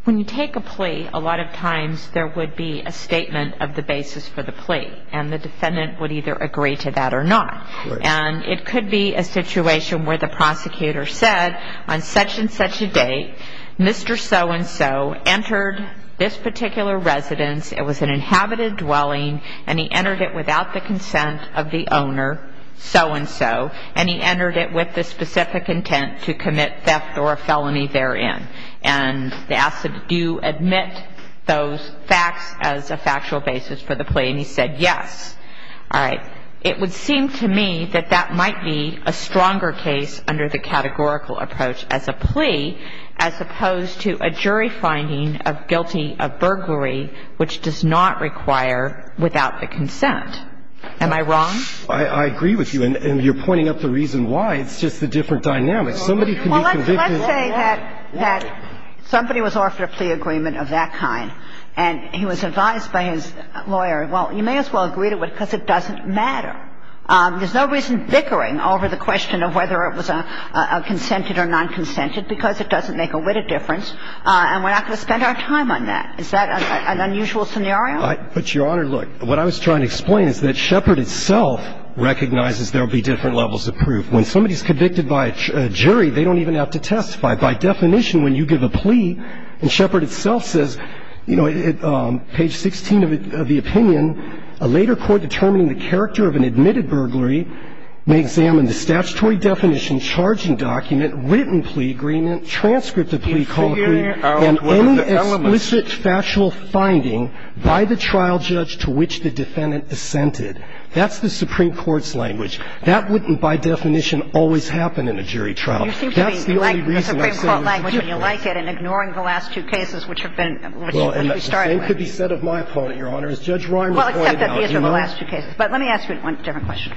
when you take a plea, a lot of times there would be a statement of the basis for the plea. And the defendant would either agree to that or not. And it could be a situation where the prosecutor said, on such and such a date, Mr. So-and-so entered this particular residence, it was an inhabited dwelling, and he entered it without the consent of the owner, so-and-so, and he entered it with the specific intent to commit theft or a felony therein. And they asked him, do you admit those facts as a factual basis for the plea? And he said yes. All right. It would seem to me that that might be a stronger case under the categorical approach as a plea, as opposed to a jury finding of guilty of burglary, which does not require without the consent. Am I wrong? I agree with you. And you're pointing out the reason why. It's just the different dynamics. Somebody can be convicted of that. Well, let's say that somebody was offered a plea agreement of that kind, and he was advised by his lawyer, well, you may as well agree to it because it doesn't matter. There's no reason bickering over the question of whether it was a consented or nonconsented because it doesn't make a witted difference, and we're not going to spend our time on that. Is that an unusual scenario? But, Your Honor, look. What I was trying to explain is that Shepard itself recognizes there will be different levels of proof. When somebody's convicted by a jury, they don't even have to testify. By definition, when you give a plea, and Shepard itself says, you know, page 16 of the opinion, a later court determining the character of an admitted burglary may examine the statutory definition, charging document, written plea agreement, and that's the Supreme Court's language. That wouldn't, by definition, always happen in a jury trial. That's the only reason I said it was a different way. You seem to be liking the Supreme Court language when you like it and ignoring the last two cases which have been, which we started with. Well, and the same could be said of my opponent, Your Honor. As Judge Ryan was pointing out, you know. Well, except that these are the last two cases. But let me ask you one different question.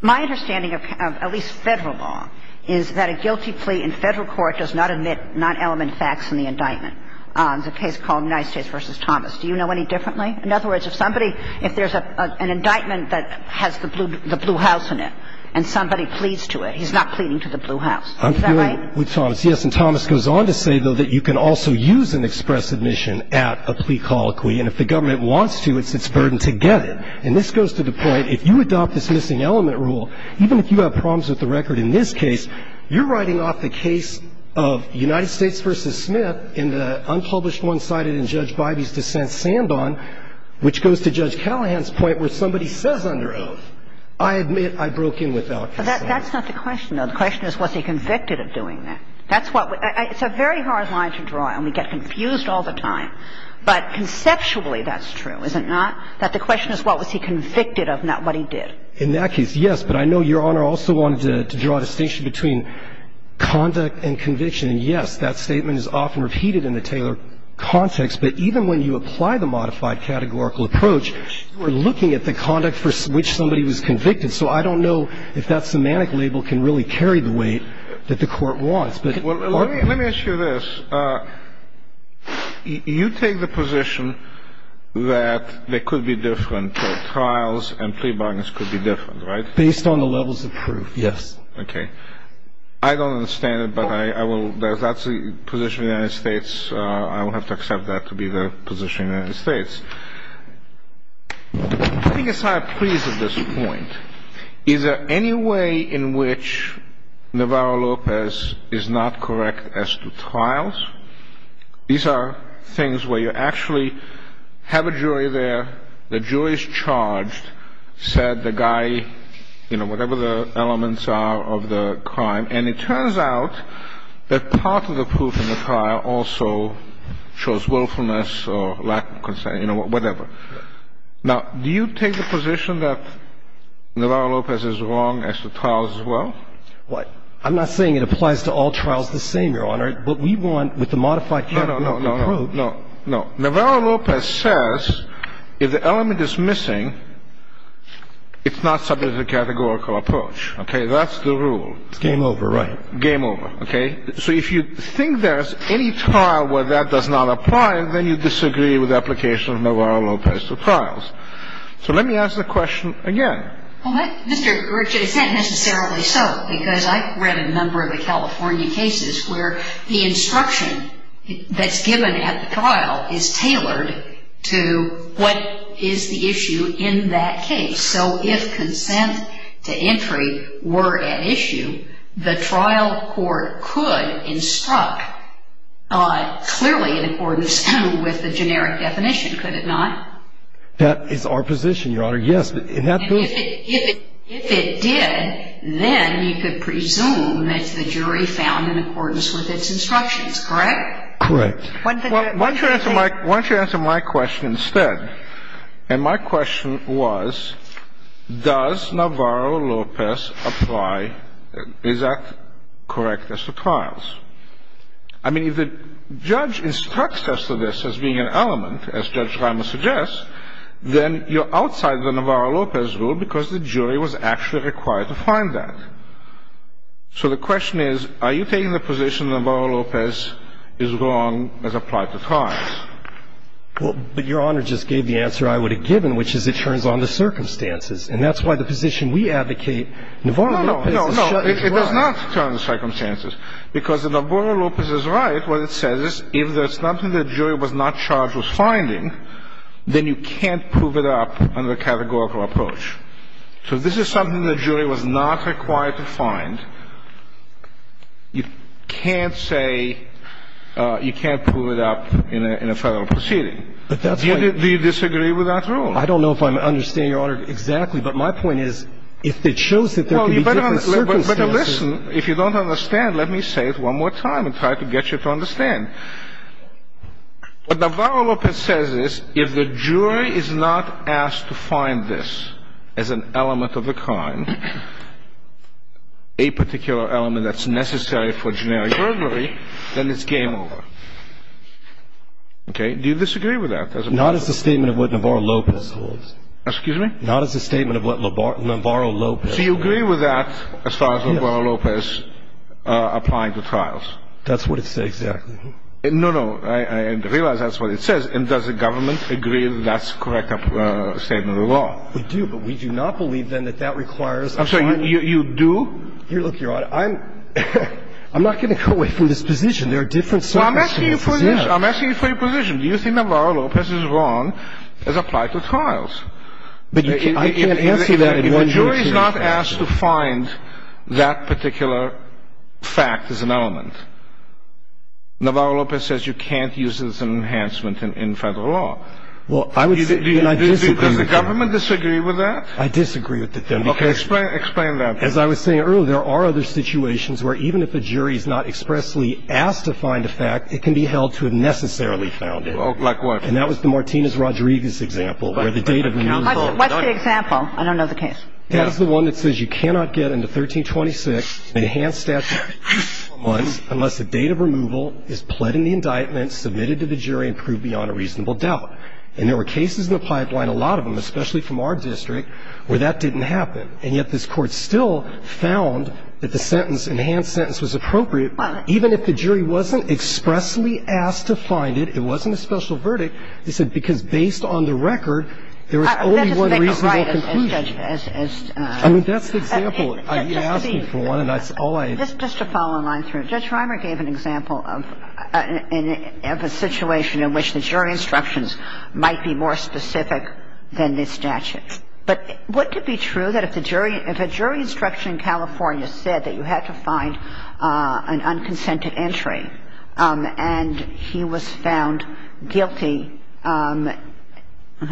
My understanding of at least Federal law is that a guilty plea in Federal court does not omit non-element facts in the indictment. There's a case called United States v. Thomas. Do you know any differently? In other words, if somebody, if there's an indictment that has the blue house in it and somebody pleads to it, he's not pleading to the blue house. Is that right? I'm agreeing with Thomas, yes. And Thomas goes on to say, though, that you can also use an express admission at a plea colloquy. And if the government wants to, it's its burden to get it. And this goes to the point, if you adopt this missing element rule, even if you have the case of United States v. Smith in the unpublished one-sided and Judge Bybee's dissent sand on, which goes to Judge Callahan's point where somebody says under oath, I admit I broke in without consent. That's not the question, though. The question is, was he convicted of doing that? That's what we – it's a very hard line to draw, and we get confused all the time. But conceptually, that's true, is it not, that the question is, what was he convicted of, not what he did? In that case, yes. But I know Your Honor also wanted to draw a distinction between conduct and conviction. And, yes, that statement is often repeated in the Taylor context. But even when you apply the modified categorical approach, you are looking at the conduct for which somebody was convicted. So I don't know if that semantic label can really carry the weight that the Court wants. But – Let me ask you this. You take the position that there could be different trials and plea bargains could be different, right? Based on the levels of proof, yes. Okay. I don't understand it, but I will – that's the position of the United States. I will have to accept that to be the position of the United States. I think it's not a plea at this point. Is there any way in which Navarro-Lopez is not correct as to trials? These are things where you actually have a jury there. The jury is charged, said the guy, you know, whatever the elements are of the crime. And it turns out that part of the proof in the trial also shows willfulness or lack of concern, you know, whatever. Now, do you take the position that Navarro-Lopez is wrong as to trials as well? What? I'm not saying it applies to all trials the same, Your Honor. What we want with the modified categorical approach – No, no, no, no, no, no. If the element is missing, it's not subject to the categorical approach. Okay? That's the rule. It's game over, right? Game over. Okay? So if you think there's any trial where that does not apply, then you disagree with the application of Navarro-Lopez to trials. So let me ask the question again. Well, Mr. Gersh, it's not necessarily so, because I've read a number of the California cases where the instruction that's given at the trial is tailored to what is the issue in that case. So if consent to entry were at issue, the trial court could instruct clearly in accordance with the generic definition, could it not? That is our position, Your Honor, yes. And that's good. But if it did, then you could presume that the jury found in accordance with its instructions, correct? Correct. Why don't you answer my question instead? And my question was, does Navarro-Lopez apply – is that correct as to trials? I mean, if the judge instructs us to this as being an element, as Judge Reimer suggests, then you're outside the Navarro-Lopez rule because the jury was actually required to find that. So the question is, are you taking the position that Navarro-Lopez is wrong as applied to trials? Well, but Your Honor just gave the answer I would have given, which is it turns on the circumstances. And that's why the position we advocate, Navarro-Lopez is right. No, no, no. It does not turn on the circumstances, because if Navarro-Lopez is right, what it says is if there's something the jury was not charged with finding, then you can't prove it up under a categorical approach. So if this is something the jury was not required to find, you can't say you can't prove it up in a Federal proceeding. Do you disagree with that rule? I don't know if I'm understanding, Your Honor, exactly. But my point is, if it shows that there could be different circumstances Well, you better listen. If you don't understand, let me say it one more time and try to get you to understand. What Navarro-Lopez says is if the jury is not asked to find this as an element of the crime, a particular element that's necessary for generic burglary, then it's game over. Okay? Do you disagree with that? Not as a statement of what Navarro-Lopez holds. Excuse me? Not as a statement of what Navarro-Lopez holds. So you agree with that as far as Navarro-Lopez applying to trials? That's what it says, exactly. No, no. I realize that's what it says. And does the government agree that that's a correct statement of the law? We do. But we do not believe, then, that that requires a fine. I'm sorry. You do? Look, Your Honor, I'm not going to go away from this position. There are different circumstances. Well, I'm asking you for your position. I'm asking you for your position. Do you think Navarro-Lopez is wrong as applied to trials? I can't answer that in one way or another. If a jury is not asked to find that particular fact as an element, Navarro-Lopez says you can't use it as an enhancement in federal law. Well, I disagree with that. Does the government disagree with that? I disagree with that. Okay. Explain that. As I was saying earlier, there are other situations where even if a jury is not expressly asked to find a fact, it can be held to have necessarily found it. Like what? And that was the Martinez-Rodriguez example, where the date of removal. What's the example? I don't know the case. That is the one that says you cannot get into 1326, an enhanced statute, unless the date of removal is pled in the indictment, submitted to the jury, and proved beyond a reasonable doubt. And there were cases in the pipeline, a lot of them, especially from our district, where that didn't happen. And yet this Court still found that the sentence, enhanced sentence, was appropriate. Even if the jury wasn't expressly asked to find it, it wasn't a special verdict, they said, because based on the record, there was only one reasonable conclusion. That doesn't make a lot of sense, Judge. I mean, that's the example. You asked me for one, and that's all I. Just to follow on through. Judge Reimer gave an example of a situation in which the jury instructions might be more specific than this statute. But wouldn't it be true that if a jury instruction in California said that you had to find an unconsented entry, and he was found guilty, I'm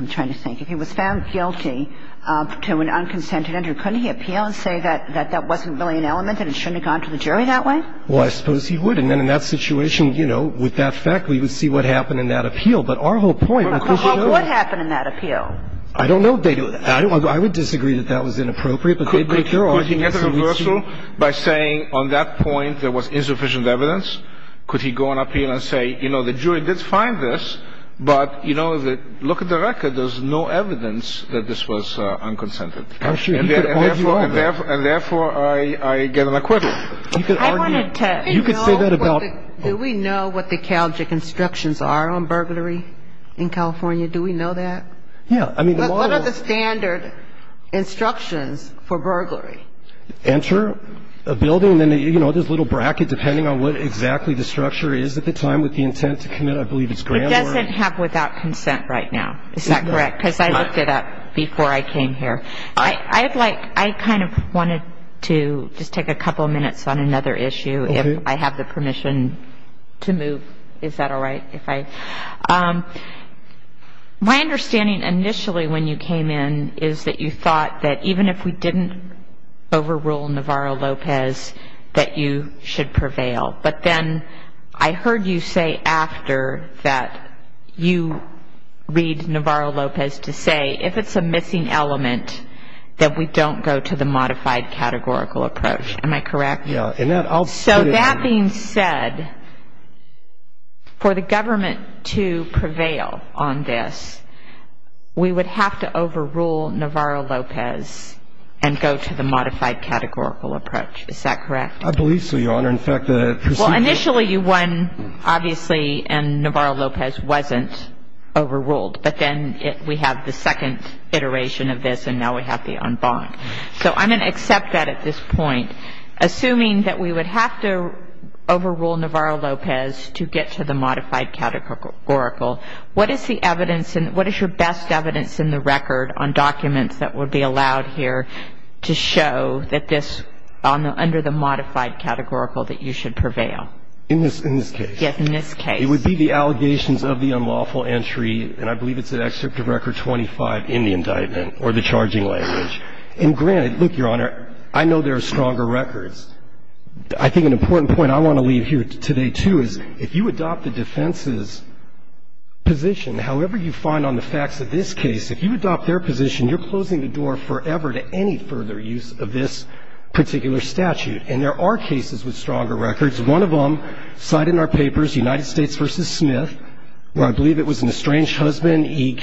trying to think, if he was found guilty to an unconsented entry, couldn't he appeal and say that that wasn't really an element and it shouldn't have gone to the jury that way? Well, I suppose he would. And then in that situation, you know, with that fact, we would see what happened in that appeal. But our whole point, because you know I don't know. Well, what happened in that appeal? I don't know. I would disagree that that was inappropriate. Could he make a reversal by saying on that point there was insufficient evidence? Could he go on appeal and say, you know, the jury did find this, but, you know, look at the record. There's no evidence that this was unconsented. And therefore, I get an acquittal. You could argue. You could say that about. Do we know what the CalGIC instructions are on burglary in California? Do we know that? Yeah. I mean, the model. What are the standard instructions for burglary? Enter a building. And then, you know, there's a little bracket depending on what exactly the structure is at the time with the intent to commit. I believe it's grand warrant. It doesn't have without consent right now. Is that correct? Because I looked it up before I came here. I'd like, I kind of wanted to just take a couple of minutes on another issue. Okay. If I have the permission to move. Is that all right? My understanding initially when you came in is that you thought that even if we didn't overrule Navarro-Lopez, that you should prevail. But then I heard you say after that you read Navarro-Lopez to say if it's a missing element, that we don't go to the modified categorical approach. Am I correct? Yeah. So that being said, for the government to prevail on this, we would have to overrule Navarro-Lopez and go to the modified categorical approach. Is that correct? I believe so, Your Honor. Well, initially you won, obviously, and Navarro-Lopez wasn't overruled. But then we have the second iteration of this, and now we have the en banc. So I'm going to accept that at this point. Assuming that we would have to overrule Navarro-Lopez to get to the modified categorical, what is the evidence and what is your best evidence in the record on documents that would be allowed here to show that this, under the modified categorical, that you should prevail? In this case. Yes, in this case. It would be the allegations of the unlawful entry, and I believe it's an excerpt of Record 25 in the indictment or the charging language. And granted, look, Your Honor, I know there are stronger records. I think an important point I want to leave here today, too, is if you adopt the defense's position, however you find on the facts of this case, if you adopt their position, you're closing the door forever to any further use of this particular statute. And there are cases with stronger records. One of them cited in our papers, United States v. Smith, where I believe it was an estranged husband. He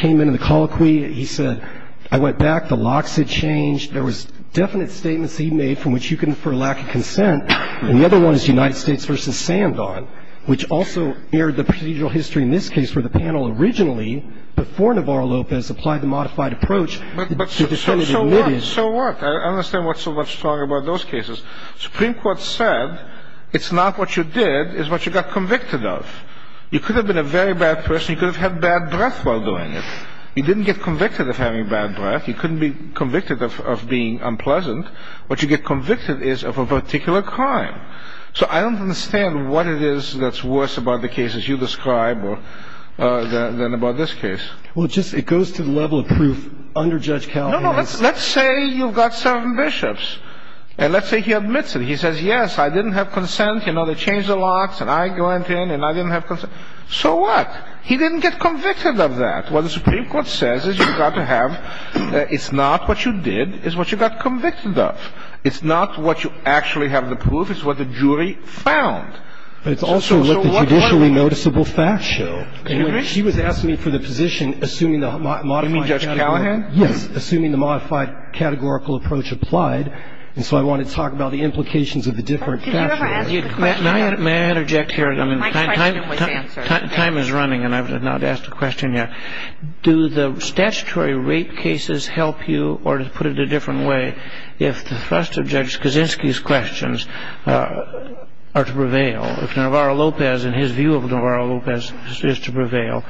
said, I went back, the locks had changed. There was definite statements he made from which you can infer lack of consent. And the other one is United States v. Sandon, which also aired the procedural history in this case where the panel originally, before Navarro-Lopez, applied the modified approach. But the defendant admitted. So what? I understand what's so much stronger about those cases. The Supreme Court said it's not what you did, it's what you got convicted of. You could have been a very bad person. You could have had bad breath while doing it. You didn't get convicted of having bad breath. You couldn't be convicted of being unpleasant. What you get convicted is of a particular crime. So I don't understand what it is that's worse about the cases you describe than about this case. Well, it goes to the level of proof under Judge Cowley. No, no. Let's say you've got seven bishops. And let's say he admits it. He says, yes, I didn't have consent. You know, they changed the locks, and I went in, and I didn't have consent. So what? He didn't get convicted of that. What the Supreme Court says is you've got to have, it's not what you did, it's what you got convicted of. It's not what you actually have the proof. It's what the jury found. But it's also what the judicially noticeable facts show. She was asking me for the position, assuming the modified category. You mean Judge Callahan? Yes. Assuming the modified categorical approach applied. And so I want to talk about the implications of the different facts. May I interject here? My question was answered. Time is running, and I have not asked a question yet. Do the statutory rape cases help you, or to put it a different way, if the thrust of Judge Kaczynski's questions are to prevail, if Navarro Lopez and his view of Navarro Lopez is to prevail,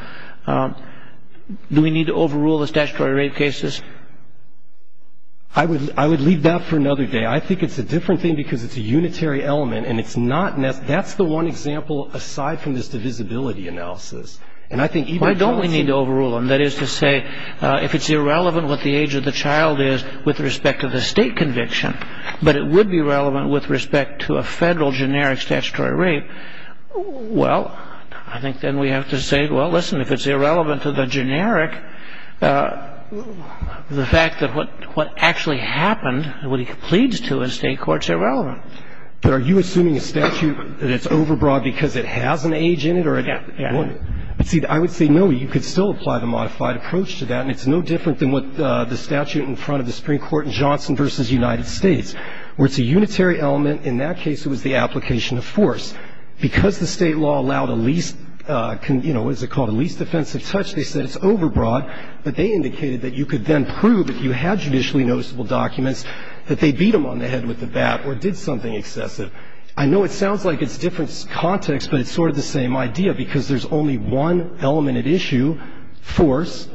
do we need to overrule the statutory rape cases? I would leave that for another day. I think it's a different thing because it's a unitary element, and that's the one example aside from this divisibility analysis. Why don't we need to overrule them? That is to say, if it's irrelevant what the age of the child is with respect to the state conviction, but it would be relevant with respect to a federal generic statutory rape, well, I think then we have to say, well, listen, if it's irrelevant to the generic, the fact that what actually happened and what he pleads to in state court is irrelevant. But are you assuming a statute that it's overbroad because it has an age in it or it wouldn't? Yes. See, I would say no. You could still apply the modified approach to that, and it's no different than what the statute in front of the Supreme Court in Johnson v. United States, where it's a unitary element. In that case, it was the application of force. Because the state law allowed a least, you know, what is it called, a least offensive touch, they said it's overbroad, but they indicated that you could then prove, if you had judicially noticeable documents, that they beat them on the head with a bat or did something excessive. I know it sounds like it's different context, but it's sort of the same idea because there's only one element at issue, force,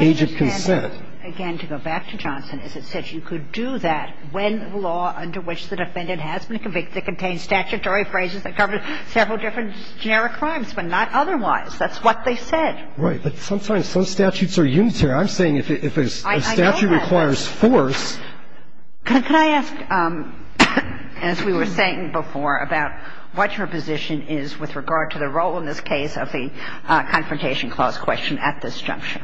age of consent. My understanding, again, to go back to Johnson, is it says you could do that when the law under which the defendant has been convicted contains statutory phrases that cover several different generic crimes, but not otherwise. That's what they said. Right. But sometimes some statutes are unitary. I'm saying if a statute requires force. Could I ask, as we were saying before, about what your position is with regard to the role in this case of the Confrontation Clause question at this juncture?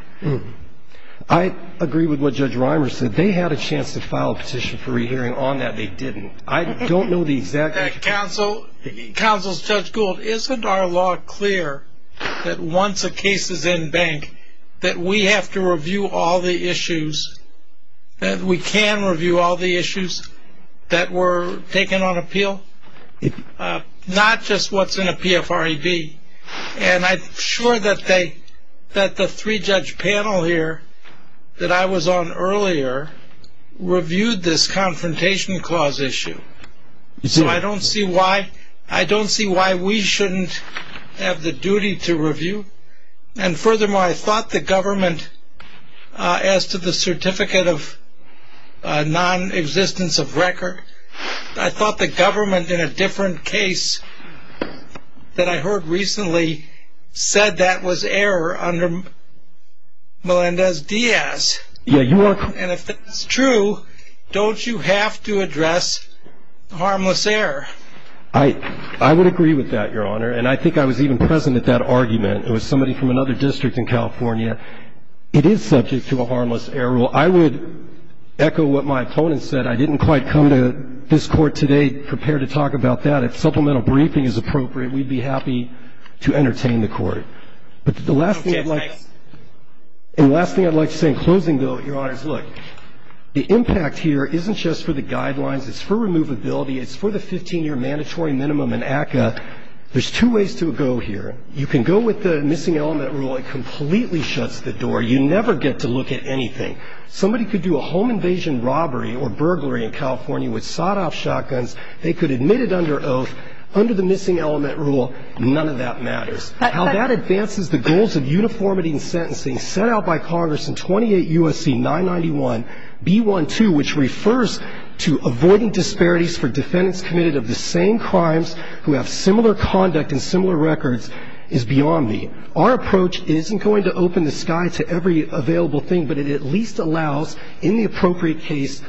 I agree with what Judge Reimer said. They had a chance to file a petition for re-hearing on that. They didn't. I don't know the exact... Counsel, Counsel Judge Gould, isn't our law clear that once a case is in bank that we have to review all the issues, that we can review all the issues that were taken on appeal? Not just what's in a PFREB. And I'm sure that the three-judge panel here that I was on earlier reviewed this Confrontation Clause issue. So I don't see why we shouldn't have the duty to review. And furthermore, I thought the government, as to the certificate of nonexistence of record, I thought the government in a different case that I heard recently said that was error under Melendez-Diaz. And if that's true, don't you have to address harmless error? I would agree with that, Your Honor. And I think I was even present at that argument. It was somebody from another district in California. It is subject to a harmless error rule. I would echo what my opponent said. I didn't quite come to this court today prepared to talk about that. If supplemental briefing is appropriate, we'd be happy to entertain the court. But the last thing I'd like to say in closing, though, Your Honors, look, the impact here isn't just for the guidelines. It's for removability. It's for the 15-year mandatory minimum in ACCA. There's two ways to go here. You can go with the missing element rule. It completely shuts the door. You never get to look at anything. Somebody could do a home invasion robbery or burglary in California with sawed-off shotguns. Under the missing element rule, none of that matters. How that advances the goals of uniformity in sentencing set out by Congress in 28 U.S.C. 991b12, which refers to avoiding disparities for defendants committed of the same crimes who have similar conduct and similar records, is beyond me. Our approach isn't going to open the sky to every available thing, but it at least allows in the appropriate case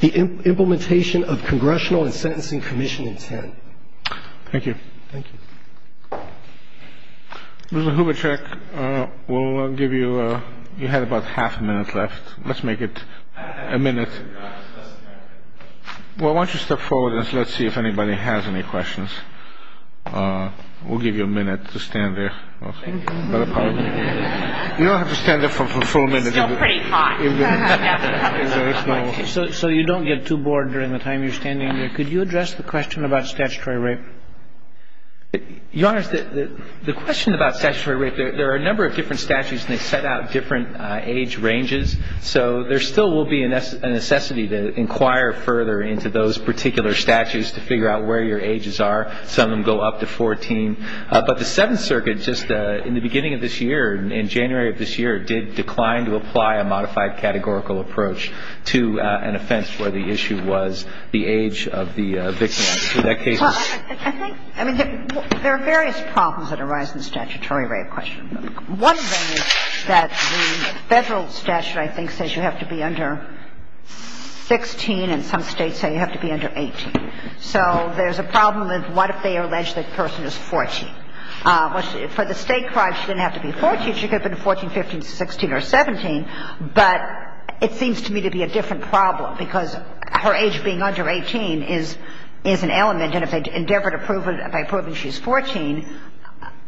the implementation of congressional and sentencing commission intent. Thank you. Thank you. Mr. Hubachek, we'll give you – you had about half a minute left. Let's make it a minute. Well, why don't you step forward and let's see if anybody has any questions. We'll give you a minute to stand there. Thank you. You don't have to stand there for a full minute. It's still pretty hot. So you don't get too bored during the time you're standing there. Could you address the question about statutory rape? Your Honor, the question about statutory rape, there are a number of different statutes and they set out different age ranges. So there still will be a necessity to inquire further into those particular statutes to figure out where your ages are. Some of them go up to 14. But the Seventh Circuit just in the beginning of this year, in January of this year, did decline to apply a modified categorical approach to an offense where the issue was the age of the victim. So I think there are various problems that arise in the statutory rape question. One thing is that the federal statute, I think, says you have to be under 16 and some states say you have to be under 18. So there's a problem with what if they allege that the person is 14. For the state crime, she didn't have to be 14. She could have been 14, 15, 16, or 17. But it seems to me to be a different problem because her age being under 18 is an element and if they endeavor to prove it by proving she's 14,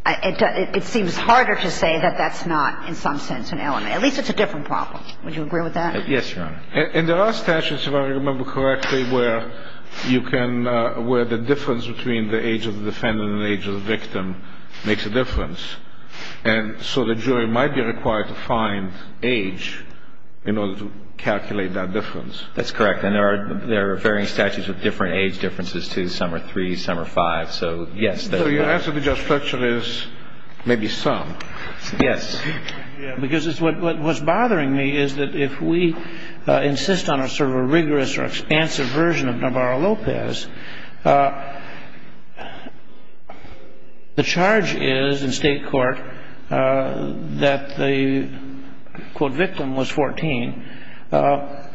it seems harder to say that that's not in some sense an element. At least it's a different problem. Would you agree with that? Yes, Your Honor. And there are statutes, if I remember correctly, where you can – where the difference between the age of the defendant and the age of the victim makes a difference. And so the jury might be required to find age in order to calculate that difference. That's correct. And there are varying statutes with different age differences, too. Some are three, some are five. So, yes. So your answer to your question is maybe some. Yes. Because what's bothering me is that if we insist on a sort of a rigorous or expansive version of Navarro-Lopez, the charge is in state court that the, quote, victim was 14. The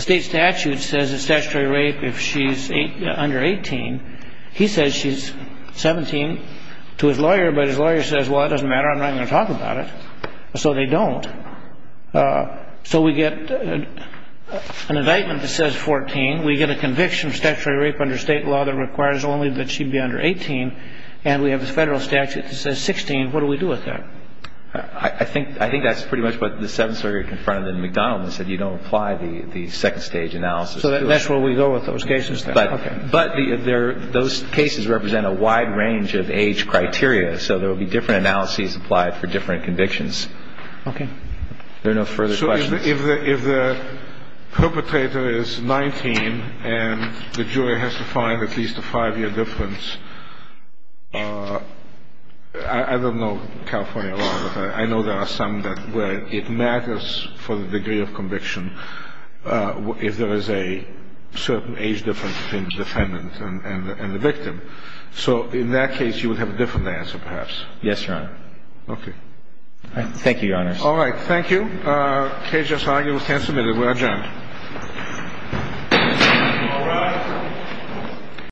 state statute says a statutory rape if she's under 18. He says she's 17 to his lawyer, but his lawyer says, well, that doesn't matter. I'm not going to talk about it. So they don't. So we get an indictment that says 14. We get a conviction of statutory rape under state law that requires only that she be under 18. And we have a federal statute that says 16. What do we do with that? I think that's pretty much what the seventh circuit confronted in McDonald and said you don't apply the second-stage analysis. So that's where we go with those cases? But those cases represent a wide range of age criteria. So there will be different analyses applied for different convictions. Okay. Are there no further questions? So if the perpetrator is 19 and the jury has to find at least a five-year difference, I don't know California law, but I know there are some where it matters for the degree of conviction if there is a certain age difference between the defendant and the victim. So in that case, you would have a different answer perhaps? Yes, Your Honor. Okay. Thank you, Your Honor. All right. Thank you. Case just argued. We can submit it. We adjourn. All rise.